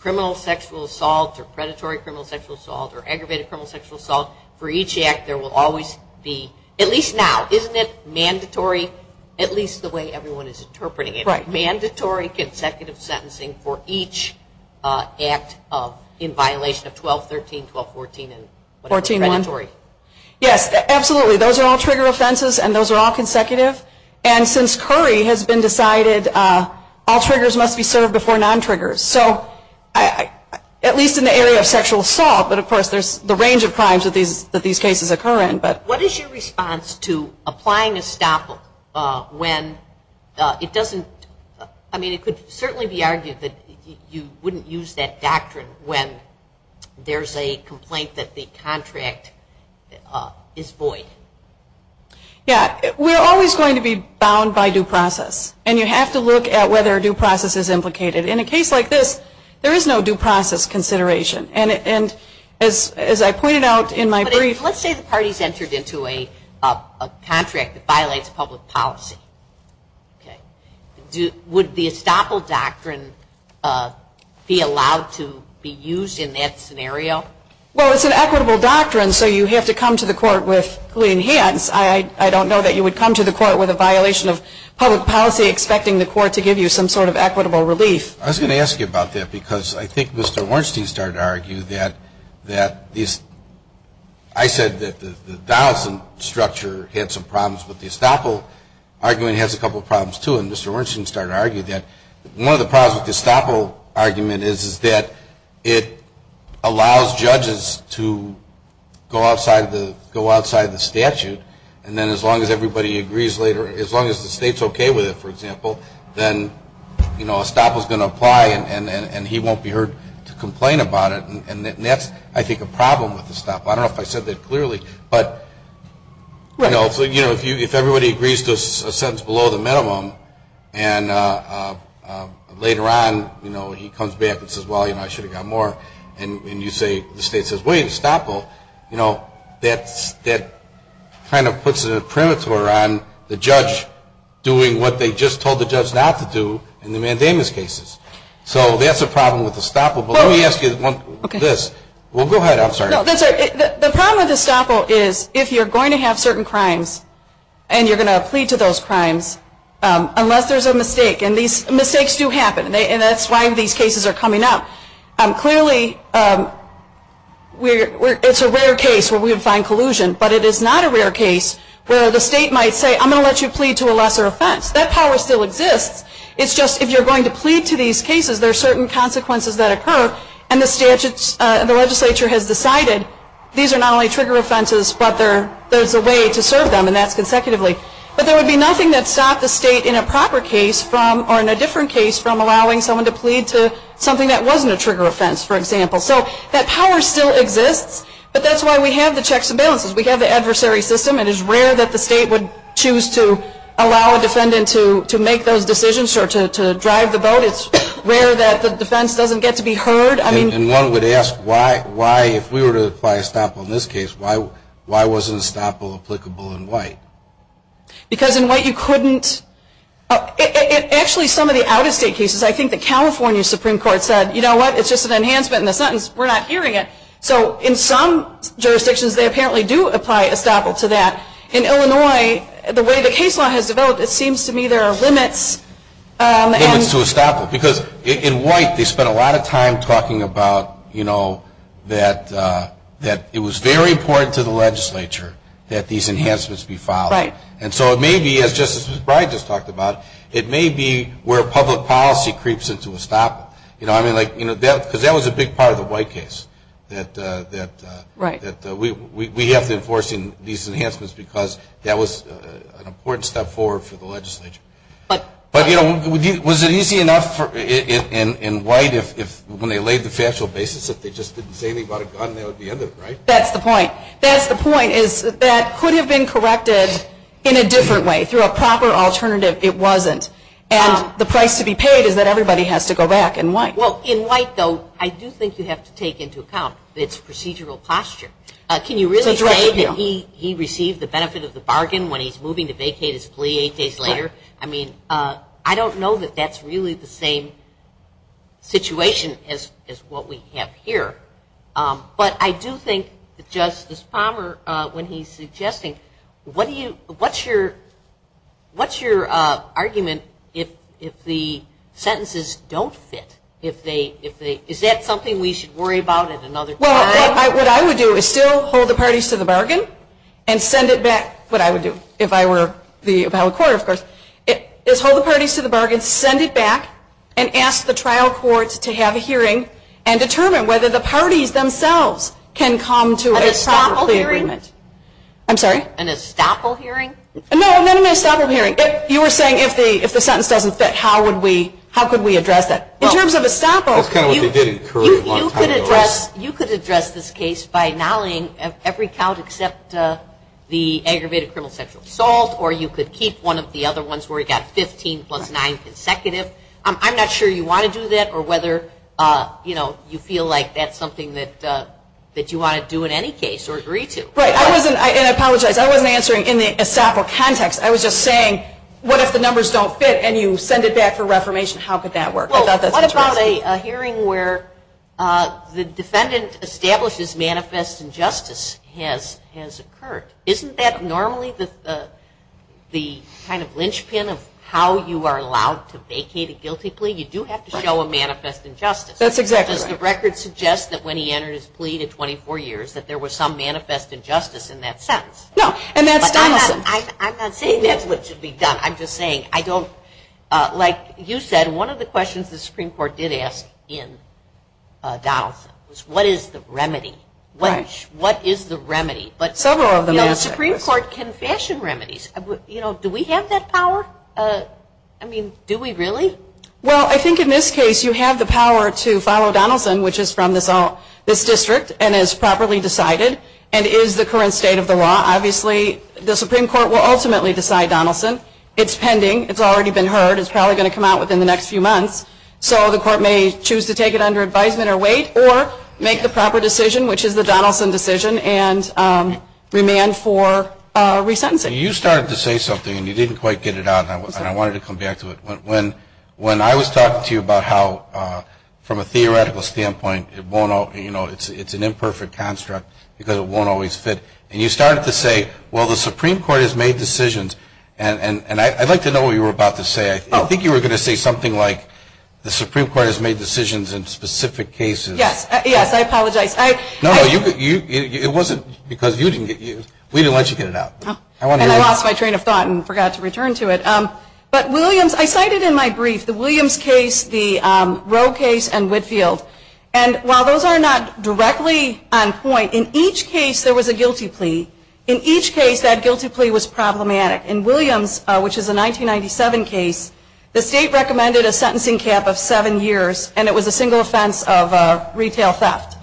criminal sexual assault or predatory criminal sexual assault or aggravated criminal sexual assault, for each act there will always be, at least now, isn't it mandatory, at least the way everyone is interpreting it, mandatory consecutive sentencing for each act in violation of 12.13, 12.14, and 14.1? Yes, absolutely. Those are all trigger offenses and those are all consecutive. And since Curry has been decided, all triggers must be served before non-triggers. So at least in the area of sexual assault, but of course there's the range of crimes that these cases occur in. What is your response to applying a stop when it doesn't, I mean it could certainly be argued that you wouldn't use that doctrine when there's a complaint that the contract is void? Yeah, we're always going to be bound by due process. And you have to look at whether due process is implicated. In a case like this, there is no due process consideration. And as I pointed out in my brief- But let's say the parties entered into a contract that violates public policy. Would the estoppel doctrine be allowed to be used in that scenario? Well, it's an equitable doctrine, so you have to come to the court with clean hands. I don't know that you would come to the court with a violation of public policy expecting the court to give you some sort of equitable relief. I was going to ask you about that because I think Mr. Wernstein started to argue that these- I said that the Donaldson structure had some problems with the estoppel argument. It has a couple of problems, too, and Mr. Wernstein started to argue that. One of the problems with the estoppel argument is that it allows judges to go outside of the statute. And then as long as everybody agrees later, as long as the state's okay with it, for example, then estoppel is going to apply and he won't be heard to complain about it. And that's, I think, a problem with estoppel. I don't know if I said that clearly, but if everybody agrees to a sentence below the minimum and later on he comes back and says, well, you know, I should have gotten more, and the state says, wait, estoppel, that kind of puts a perimeter around the judge doing what they just told the judge not to do in the mandamus cases. So that's a problem with estoppel. But let me ask you this. Well, go ahead. The problem with estoppel is if you're going to have certain crimes and you're going to plead to those crimes unless there's a mistake, and mistakes do happen, and that's why these cases are coming up. Clearly it's a rare case where we would find collusion, but it is not a rare case where the state might say, I'm going to let you plead to a lesser offense. That power still exists. It's just if you're going to plead to these cases, there are certain consequences that occur, and the legislature has decided these are not only trigger offenses, but there's a way to serve them, and that's consecutively. But there would be nothing that stopped the state in a proper case or in a different case from allowing someone to plead to something that wasn't a trigger offense, for example. So that power still exists, but that's why we have the checks and balances. We have the adversary system. It is rare that the state would choose to allow a defendant to make those decisions or to drive the boat. It's rare that the defense doesn't get to be heard. And one would ask why, if we were to apply estoppel in this case, why wasn't estoppel applicable in white? Because in white you couldn't – actually some of the out-of-state cases, I think the California Supreme Court said, you know what, it's just an enhancement in the sentence. We're not hearing it. So in some jurisdictions they apparently do apply estoppel to that. In Illinois, the way the case law has developed, it seems to me there are limits. Limits to estoppel. Because in white they spend a lot of time talking about that it was very important to the legislature that these enhancements be followed. And so it may be, as Justice McBride just talked about, it may be where public policy creeps into estoppel. Because that was a big part of the white case, that we have to enforce these enhancements because that was an important step forward for the legislature. But, you know, was it easy enough in white when they laid the factual basis if they just didn't say anything about it on the end of it, right? That's the point. That's the point is that that could have been corrected in a different way. Through a proper alternative, it wasn't. And the price to be paid is that everybody has to go back in white. Well, in white, though, I do think you have to take into account its procedural posture. Can you really say that he received the benefit of the bargain when he's moving to vacate his plea eight days later? I mean, I don't know that that's really the same situation as what we have here. But I do think, Justice Palmer, when he's suggesting, what's your argument if the sentences don't fit? Is that something we should worry about at another time? Well, what I would do is still hold the parties to the bargain and send it back what I would do if I were the appellate court, of course, is hold the parties to the bargain, send it back, and ask the trial court to have a hearing and determine whether the parties themselves can come to an estoppel hearing. I'm sorry? An estoppel hearing? No, not an estoppel hearing. You were saying if the sentence doesn't fit, how could we address it? In terms of estoppel, you could address this case by nulling every count except the aggravated criminal sexual assault, or you could keep one of the other ones where you've got 15 plus 9 consecutive. I'm not sure you want to do that or whether you feel like that's something that you want to do in any case or agree to. Right, and I apologize. I wasn't answering in the estoppel context. I was just saying, what if the numbers don't fit and you send it back for reformation? How could that work? What about a hearing where the defendant establishes manifest injustice has occurred? Isn't that normally the kind of linchpin of how you are allowed to vacate a guilty plea? You do have to show a manifest injustice. That's exactly right. Does the record suggest that when he entered his plea to 24 years that there was some manifest injustice in that sentence? No. I'm not saying that's what should be done. I'm just saying, like you said, one of the questions the Supreme Court did ask in Donaldson was what is the remedy? What is the remedy? Several of them. The Supreme Court can fashion remedies. Do we have that power? I mean, do we really? Well, I think in this case you have the power to follow Donaldson, which is from this district and is properly decided and is the current state of the law. Obviously, the Supreme Court will ultimately decide Donaldson. It's pending. It's already been heard. It's probably going to come out within the next few months. So the court may choose to take it under advisement or wait or make the proper decision, which is the Donaldson decision, and remand for re-sentencing. You started to say something, and you didn't quite get it out, and I wanted to come back to it. When I was talking to you about how, from a theoretical standpoint, it's an imperfect construct because it won't always fit, and you started to say, well, the Supreme Court has made decisions, and I'd like to know what you were about to say. I think you were going to say something like the Supreme Court has made decisions in specific cases. Yes, I apologize. No, it wasn't because you didn't get it. We didn't let you get it out. I lost my train of thought and forgot to return to it. But Williams, I cited in my brief the Williams case, the Roe case, and Whitfield. While those are not directly on point, in each case there was a guilty plea. In each case, that guilty plea was problematic. In Williams, which is a 1997 case, the state recommended a sentencing cap of seven years, and it was a single offense of retail theft.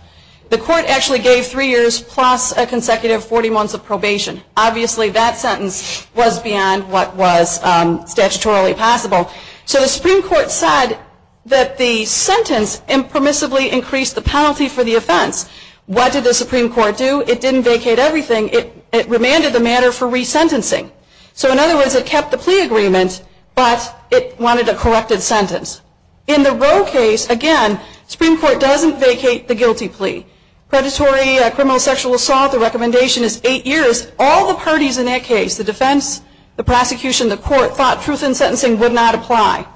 The court actually gave three years plus a consecutive 40 months of probation. Obviously, that sentence was beyond what was statutorily possible. So the Supreme Court said that the sentence impermissibly increased the penalty for the offense. What did the Supreme Court do? It didn't vacate everything. It remanded the matter for resentencing. So in other words, it kept the plea agreement, but it wanted a corrected sentence. In the Roe case, again, the Supreme Court doesn't vacate the guilty plea. Predatory criminal sexual assault, the recommendation is eight years. All the parties in that case, the defense, the prosecution, the court, thought truth in sentencing would not apply,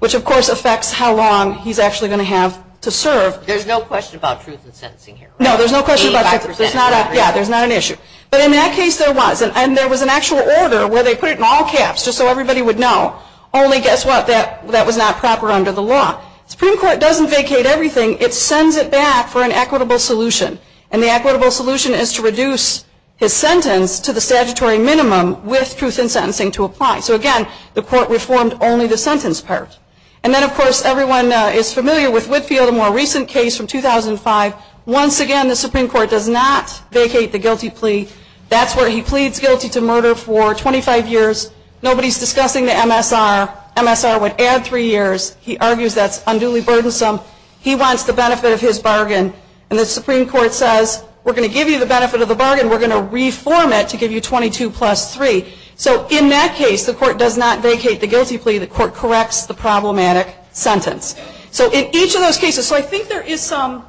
which, of course, affects how long he's actually going to have to serve. There's no question about truth in sentencing here, right? No, there's no question about truth in sentencing. Yeah, there's not an issue. But in that case, there was, and there was an actual order where they put it in all caps just so everybody would know. Only guess what? That was not proper under the law. The Supreme Court doesn't vacate everything. It sends it back for an equitable solution, and the equitable solution is to reduce his sentence to the statutory minimum with truth in sentencing to apply. So, again, the court reformed only the sentence part. And then, of course, everyone is familiar with Whitfield, a more recent case from 2005. Once again, the Supreme Court does not vacate the guilty plea. That's where he pleads guilty to murder for 25 years. Nobody's discussing the MSR. MSR would add three years. He argues that's unduly burdensome. He wants the benefit of his bargain. And the Supreme Court says, we're going to give you the benefit of the bargain. We're going to reform it to give you 22 plus three. So in that case, the court does not vacate the guilty plea. The court corrects the problematic sentence. So in each of those cases, so I think there is some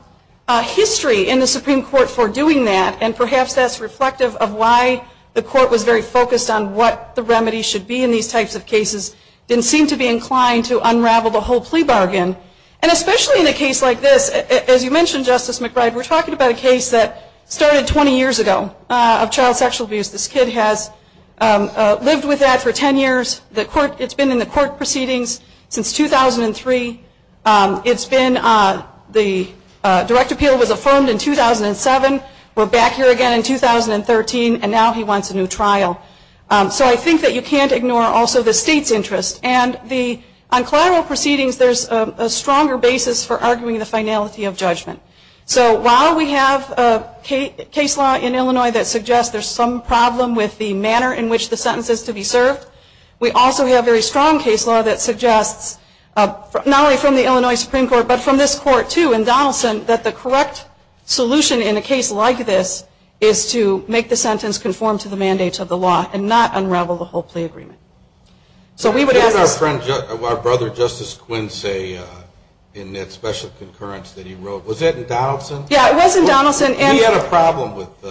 history in the Supreme Court for doing that, and perhaps that's reflective of why the court was very focused on what the remedy should be in these types of cases and seemed to be inclined to unravel the whole plea bargain. And especially in a case like this, as you mentioned, Justice McBride, we're talking about a case that started 20 years ago of child sexual abuse. This kid has lived with that for 10 years. It's been in the court proceedings since 2003. It's been the direct appeal was affirmed in 2007. We're back here again in 2013, and now he wants a new trial. So I think that you can't ignore also the state's interest. And on collateral proceedings, there's a stronger basis for arguing the finality of judgment. So while we have a case law in Illinois that suggests there's some problem with the manner in which the sentence is to be served, we also have a very strong case law that suggests, not only from the Illinois Supreme Court, but from this court too in Donaldson, that the correct solution in a case like this is to make the sentence conform to the mandates of the law and not unravel the whole plea agreement. We had our friend, our brother, Justice Quincy, in that special concurrence that he wrote. Was that in Donaldson? Yeah, it was in Donaldson. And he had a problem with,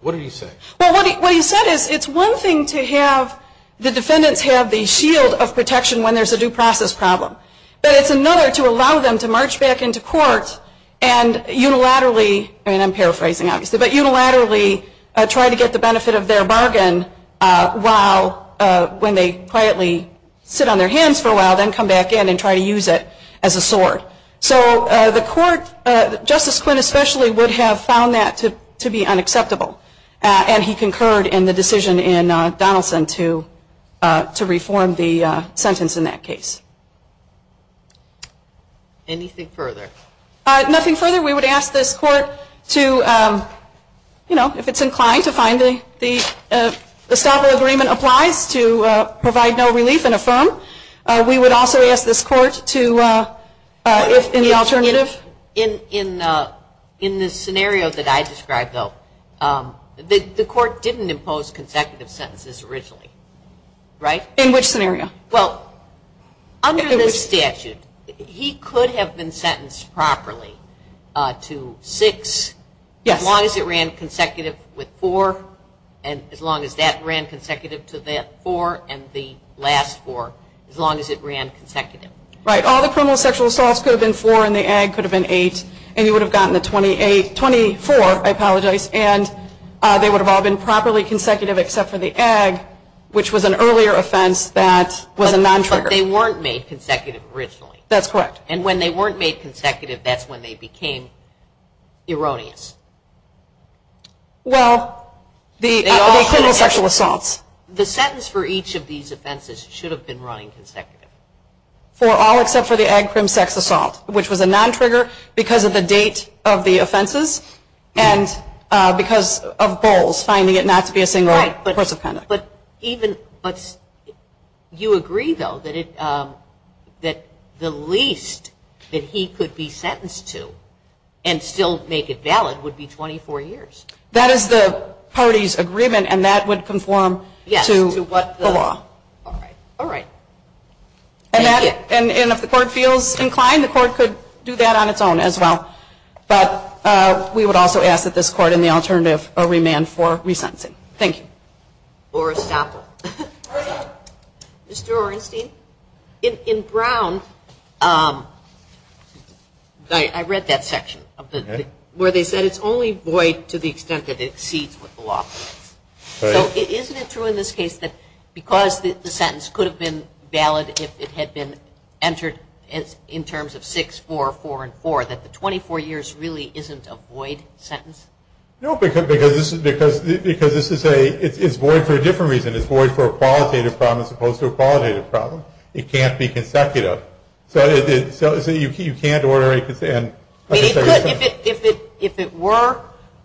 what did he say? Well, what he said is it's one thing to have the defendants have the shield of protection when there's a due process problem, but it's another to allow them to march back into court and unilaterally, I'm paraphrasing obviously, but unilaterally try to get the benefit of their bargain while, when they quietly sit on their hands for a while, then come back in and try to use it as a sword. So the court, Justice Quinn especially, would have found that to be unacceptable, and he concurred in the decision in Donaldson to reform the sentence in that case. Anything further? Nothing further. We would ask this court to, you know, if it's inclined to find the escapo agreement applies, to provide no relief and affirm. We would also ask this court to, if any alternative. In the scenario that I described, though, the court didn't impose consecutive sentences originally, right? In which scenario? Well, under the statute, he could have been sentenced properly to six as long as it ran consecutive with four, and as long as that ran consecutive to that four, and the last four, as long as it ran consecutive. Right. All the criminal sexual assaults could have been four, and the ag could have been eight, and you would have gotten the 24, I apologize, and they would have all been properly consecutive except for the ag, which was an earlier offense that was a non-trigger. But they weren't made consecutive originally. That's correct. And when they weren't made consecutive, that's when they became erroneous. Well, the criminal sexual assaults. The sentence for each of these offenses should have been running consecutive. For all except for the ag crime sex assault, which was a non-trigger because of the date of the offenses and because of Bowles finding it not to be a single offense. But you agree, though, that the least that he could be sentenced to and still make it valid would be 24 years. That is the party's agreement, and that would conform to the law. All right. And if the court feels inclined, the court could do that on its own as well. But we would also ask that this court in the alternative remand for resentencing. Thank you. For example, Mr. Orenstein, in Brown, I read that section where they said it's only void to the extent that it exceeds the law. So isn't it true in this case that because the sentence could have been valid if it had been entered in terms of 6, 4, 4, and 4, that the 24 years really isn't a void sentence? No, because this is a – it's void for a different reason. It's void for a qualitative problem as opposed to a qualitative problem. It can't be consecutive. So you can't order it to the end. If it were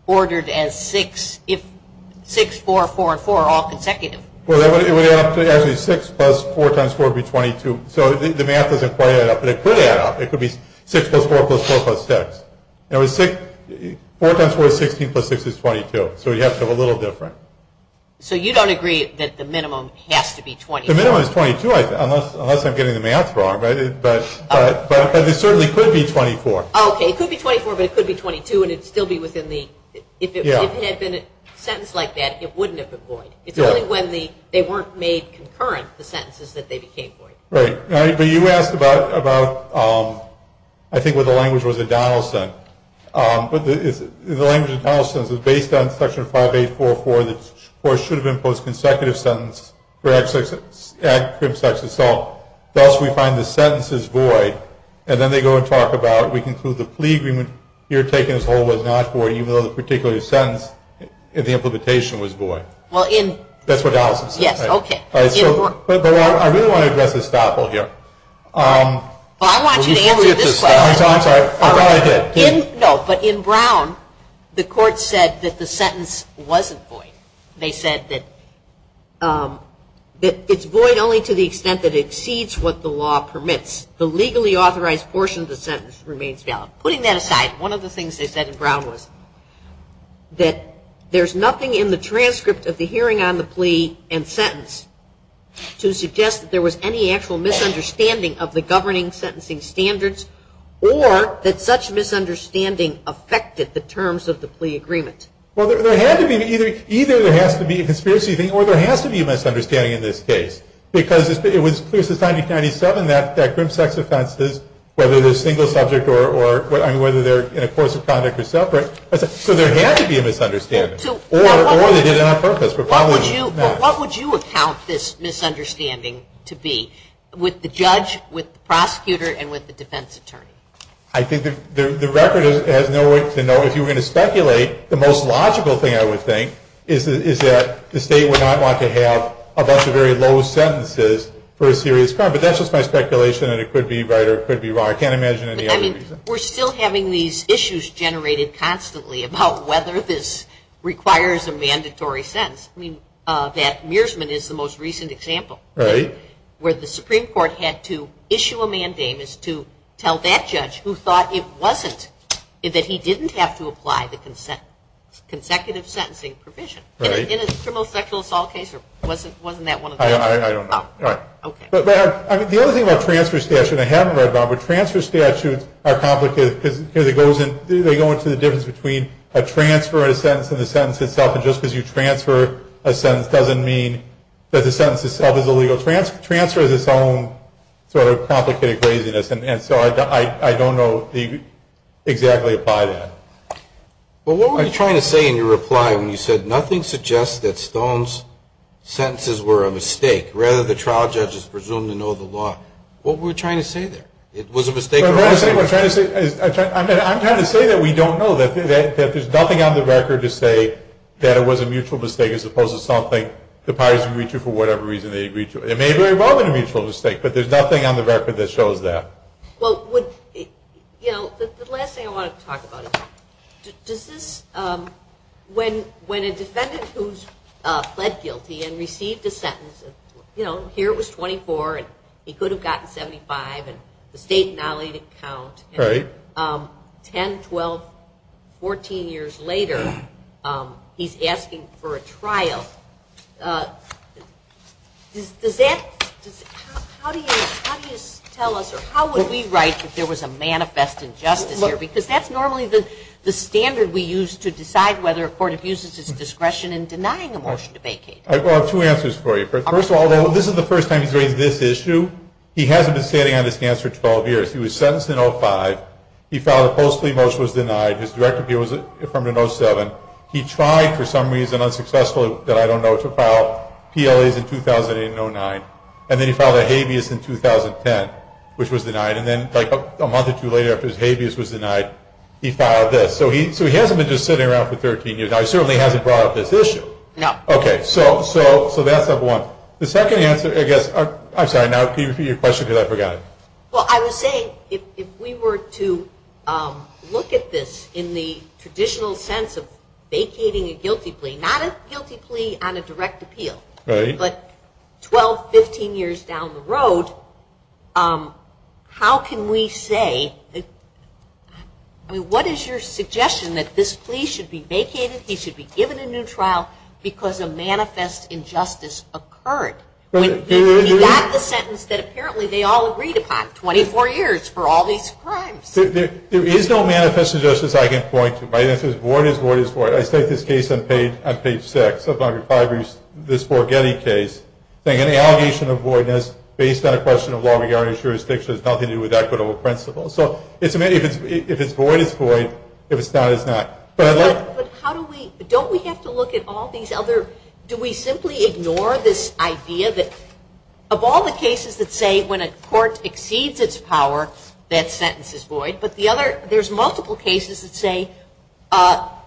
ordered as 6, 4, 4, and 4, all consecutive. Well, it would have to – actually, 6 plus 4 times 4 would be 22. So the math doesn't play it out, but it could add up. It could be 6 plus 4 plus 4 plus 6. Now, 4 times 4 is 16, plus 6 is 22. So it has to be a little different. So you don't agree that the minimum has to be 22? The minimum is 22, unless I'm getting the math wrong, right? But it certainly could be 24. Okay, it could be 24, but it could be 22, and it would still be within the – if it had been a sentence like that, it wouldn't have been void. It's only when they weren't made concurrent, the sentences that they became void. Right. Now, you asked about, I think, where the language was in Donaldson. The language in Donaldson is based on Section 5844, that 4 should have been a post-consecutive sentence for ad crib sex itself. Thus, we find the sentence is void, and then they go and talk about, we conclude the plea agreement here taken as whole was not void, even though the particular sentence in the implementation was void. That's what Donaldson says. Yes, okay. But I really want to address this battle here. Well, I want you to answer this question. No, but in Brown, the court said that the sentence wasn't void. They said that it's void only to the extent that it exceeds what the law permits. The legally authorized portion of the sentence remains valid. Putting that aside, one of the things they said in Brown was that there's nothing in the transcript of the hearing on the plea and sentence to suggest that there was any actual misunderstanding of the governing sentencing standards or that such misunderstanding affected the terms of the plea agreement. Well, there had to be. Either there has to be a conspiracy or there has to be a misunderstanding in this case because it was decided in 1997 that grim sex offenses, whether they're single subject or whether they're a force of conduct or separate, so there had to be a misunderstanding. Or they did it on purpose. What would you account this misunderstanding to be with the judge, with the prosecutor, and with the defense attorney? I think the record has no way to know. If you were going to speculate, the most logical thing I would think is that the state would not want to have a bunch of very low sentences for a serious crime. But that's just my speculation and it could be right or it could be wrong. I can't imagine any other reason. I mean, we're still having these issues generated constantly about whether this requires a mandatory sentence. I mean, that Mearsman is the most recent example. Right. Where the Supreme Court had to issue a mandamus to tell that judge who thought it wasn't, that he didn't have to apply the consent, consecutive sentencing provision. Right. In a criminal sexual assault case or wasn't that one of them? I don't know. All right. Okay. The only thing about transfer statutes, and I haven't read about them, but transfer statutes are complicated because it goes into the difference between a transfer and a sentence and the sentence itself. And just because you transfer a sentence doesn't mean that the sentence itself is illegal. Transfer is its own sort of complicated craziness. And so I don't know exactly why that is. Well, what we're trying to say in your reply when you said, nothing suggests that Stone's sentences were a mistake. Rather, the trial judge is presumed to know the law. What were we trying to say there? It was a mistake? I'm trying to say that we don't know. There's nothing on the record to say that it was a mutual mistake as opposed to something the parties agreed to for whatever reason they agreed to. It may have been a mutual mistake, but there's nothing on the record that shows that. Well, you know, the last thing I want to talk about is when a defendant who's pled guilty and received a sentence, you know, here it was 24 and he could have gotten 75 and the state not let it count. Right. And 10, 12, 14 years later he's asking for a trial. How do you tell us or how would we write that there was a manifest injustice here? Because that's normally the standard we use to decide whether a court abuses his discretion in denying a motion to vacate. Well, I have two answers for you. First of all, this isn't the first time he's raised this issue. He hasn't been standing on his hands for 12 years. He was sentenced in 05. He filed a false plea motion and was denied. His record here was affirmed in 07. He tried for some reason, unsuccessful, that I don't know, to file PLAs in 2008 and 09. And then he filed a habeas in 2010, which was denied. And then like a month or two later after his habeas was denied, he filed this. So he hasn't been just sitting around for 13 years. Now, he certainly hasn't brought up this issue. No. Okay. So that's number one. The second answer, I guess, I'm sorry, now repeat your question because I forgot it. Well, I would say if we were to look at this in the traditional sense of vacating a guilty plea, not a guilty plea on a direct appeal, but 12, 15 years down the road, how can we say, what is your suggestion that this plea should be vacated, he should be given a new trial because a manifest injustice occurred? That's a sentence that apparently they all agreed upon, 24 years for all these crimes. There is no manifest injustice I can point to, right? If it's void, it's void, it's void. I said this case on page 6 of Dr. Fibery's, this Borghetti case, saying an allegation of voidness based on a question of law regarding jurisdiction has nothing to do with equitable principles. So if it's void, it's void. If it's not, it's not. But how do we, don't we have to look at all these other, do we simply ignore this idea that, of all the cases that say when a court exceeds its power, that sentence is void, but the other, there's multiple cases that say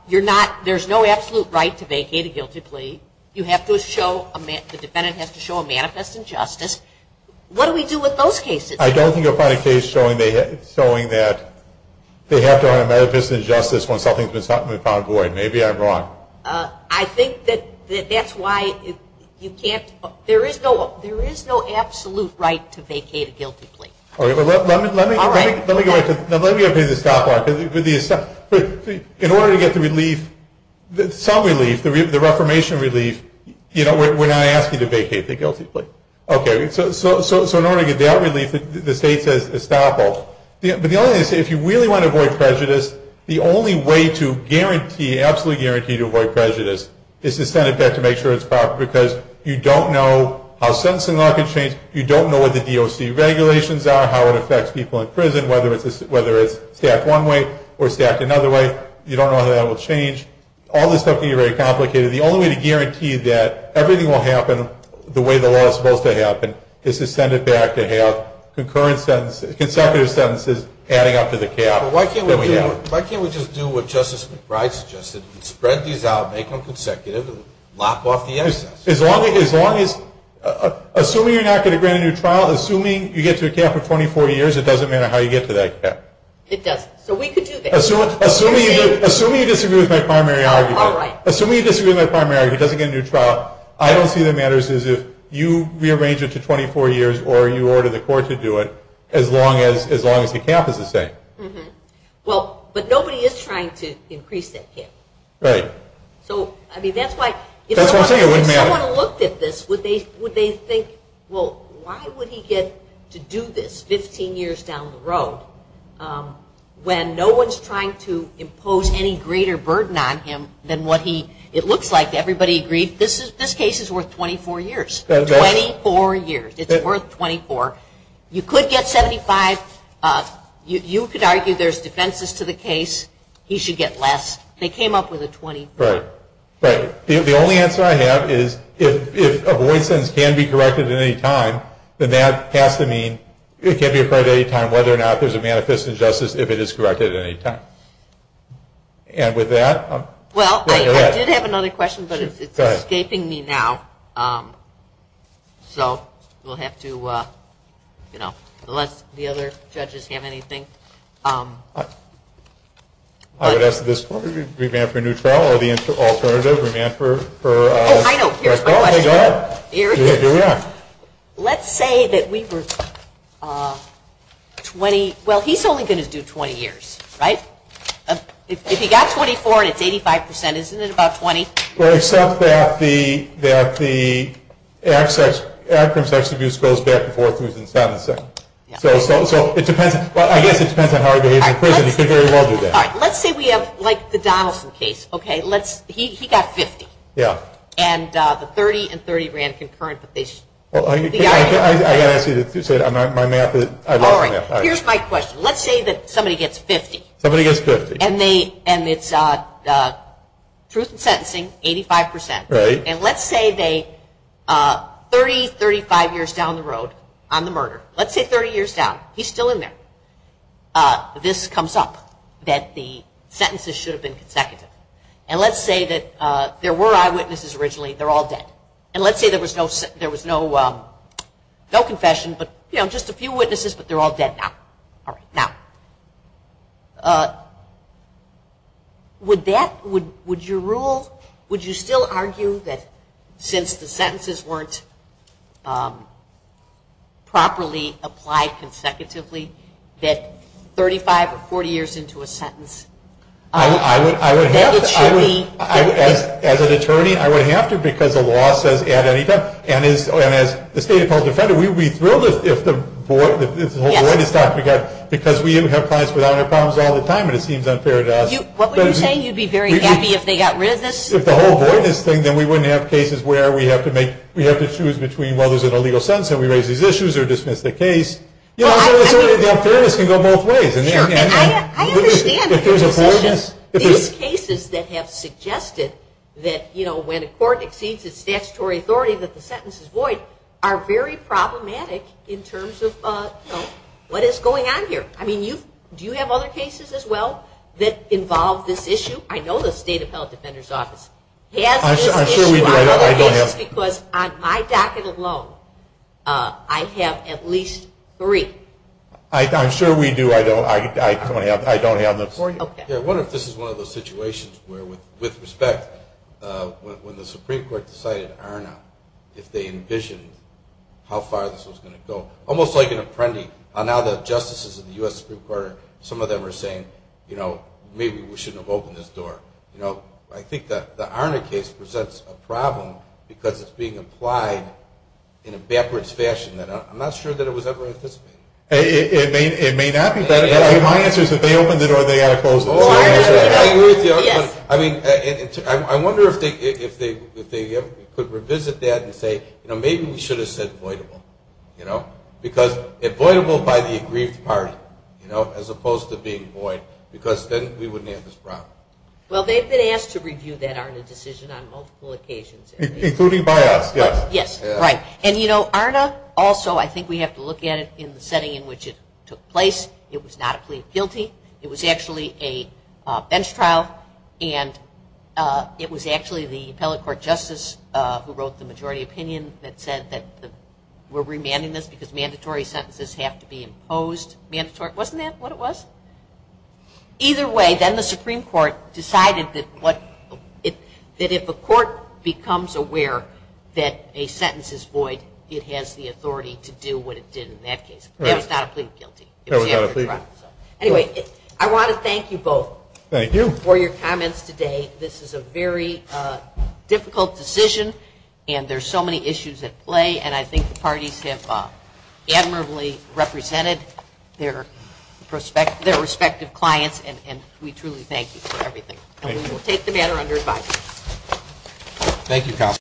you're not, there's no absolute right to vacate a guilty plea. You have to show, the defendant has to show a manifest injustice. What do we do with those cases? I don't think I've found a case showing that they have to have a manifest injustice when something's been found void. Maybe I'm wrong. I think that that's why you can't, there is no absolute right to vacate a guilty plea. All right. Let me get rid of the stopwatch. In order to get the release, some release, the reformation release, you know, we're not asking to vacate the guilty plea. Okay. So in order to get that release, the state says stopwatch. But the only thing to say, if you really want to avoid prejudice, the only way to guarantee, absolutely guarantee to avoid prejudice is to send it back to make sure it's proper, because you don't know how sentencing law can change. You don't know what the DOC regulations are, how it affects people in prison, whether it's stacked one way or stacked another way. You don't know how that will change. All this stuff can be very complicated. The only way to guarantee that everything will happen the way the law is supposed to happen is to send it back to have concurrent sentences, consecutive sentences adding up to the cap. Why can't we just do what Justice McBride suggested? Spread these out, make them consecutive, lock off the innocence. As long as, assuming you're not going to grant a new trial, assuming you get to a cap for 24 years, it doesn't matter how you get to that cap. It doesn't. So we could do that. Assuming you disagree with my primary argument. All right. Assuming you disagree with my primary argument, doesn't get a new trial, I don't see what matters is if you rearrange it to 24 years or you order the court to do it as long as the cap is the same. Well, but nobody is trying to increase that cap. Right. So, I mean, that's why, if someone looked at this, would they think, well, why would he get to do this 15 years down the road when no one is trying to impose any greater burden on him than what he, it looks like everybody agreed this case is worth 24 years. 24 years. It's worth 24. You could get 75. You could argue there's defenses to the case. He should get less. They came up with a 24. Right. The only answer I have is if avoidance can be corrected at any time, then that has to mean it can be referred at any time whether or not there's a manifest injustice if it is corrected at any time. And with that, I'm going to end. Well, I did have another question, but it's escaping me now. So, we'll have to, you know, unless the other judges have anything. I would ask this one. Remand for a new trial or the alternative, remand for a new trial. Oh, I know. Here we go. Here we are. Here we are. Let's say that we were 20. Well, he's only going to do 20 years, right? If he got 24 and it's 85%, isn't it about 20? Well, except that the absence of abuse goes back to 40s and 70s. So, it depends. I guess it depends on how he behaves in prison. Let's say we have, like, the Donaldson case, okay? He got 50. Yeah. And the 30 and 30 ran concurrent. I got to ask you this. My math is, I love math. All right. Here's my question. Let's say that somebody gets 50. Somebody gets 50. And it's truth in sentencing, 85%. Right. And let's say they, 30, 35 years down the road on the murder. Let's say 30 years down. He's still in there. This comes up that the sentences should have been consecutive. And let's say that there were eyewitnesses originally. They're all dead. And let's say there was no confession, but, you know, just a few witnesses, but they're all dead now. All right. Now, would that, would your rule, would you still argue that since the sentences weren't properly applied consecutively, that 35 or 40 years into a sentence? I would have to. As an attorney. As an attorney, I would have to because the law says at any time. And as the State Appellate Defender, we'd be thrilled if the board, if the whole board had stopped. Because we have clients with honor problems all the time, and it seems unfair to us. What were you saying? You'd be very happy if they got rid of this? If the whole board had stopped, then we wouldn't have cases where we have to make, we have to choose between, well, there's an illegal sentence and we raise these issues or dismiss the case. Well, I mean. You know, I'm going to go both ways. I understand. These cases that have suggested that, you know, when a court exceeds its statutory authority that the sentence is void, are very problematic in terms of, you know, what is going on here. I mean, do you have other cases as well that involve this issue? I know the State Appellate Defender's office has these cases. I'm sure we do. I don't have. Because on my docket alone, I have at least three. I'm sure we do. I don't have them. I wonder if this is one of those situations where, with respect, when the Supreme Court decided to iron out, if they envisioned how far this was going to go. Almost like an apprendee. Now that justices in the U.S. Supreme Court, some of them are saying, you know, maybe we shouldn't have opened this door. I think that the Arner case presents a problem because it's being implied in a backwards fashion. I'm not sure that it was ever anticipated. It may not be. My answer is if they opened it or they closed it. I mean, I wonder if they could revisit that and say, you know, maybe we should have said voidable. You know, because if voidable by the agreed party, you know, as opposed to being void, because then we wouldn't have this problem. Well, they've been asked to review that Arner decision on multiple occasions. Including by us, yes. Yes, right. And, you know, Arner also, I think we have to look at it in the setting in which it took place. It was not a plea of guilty. It was actually a bench trial, and it was actually the appellate court justice who wrote the majority opinion that said that we're remanding this because mandatory sentences have to be imposed. Wasn't that what it was? Either way, then the Supreme Court decided that if a court becomes aware that a sentence is void, it has the authority to do what it did in that case. It was not a plea of guilty. It was not a plea. Anyway, I want to thank you both. Thank you. For your comments today. This is a very difficult decision, and there's so many issues at play, and I think the parties have admirably represented their respective clients, and we truly thank you for everything. We will take the matter under advice. Thank you, counsel.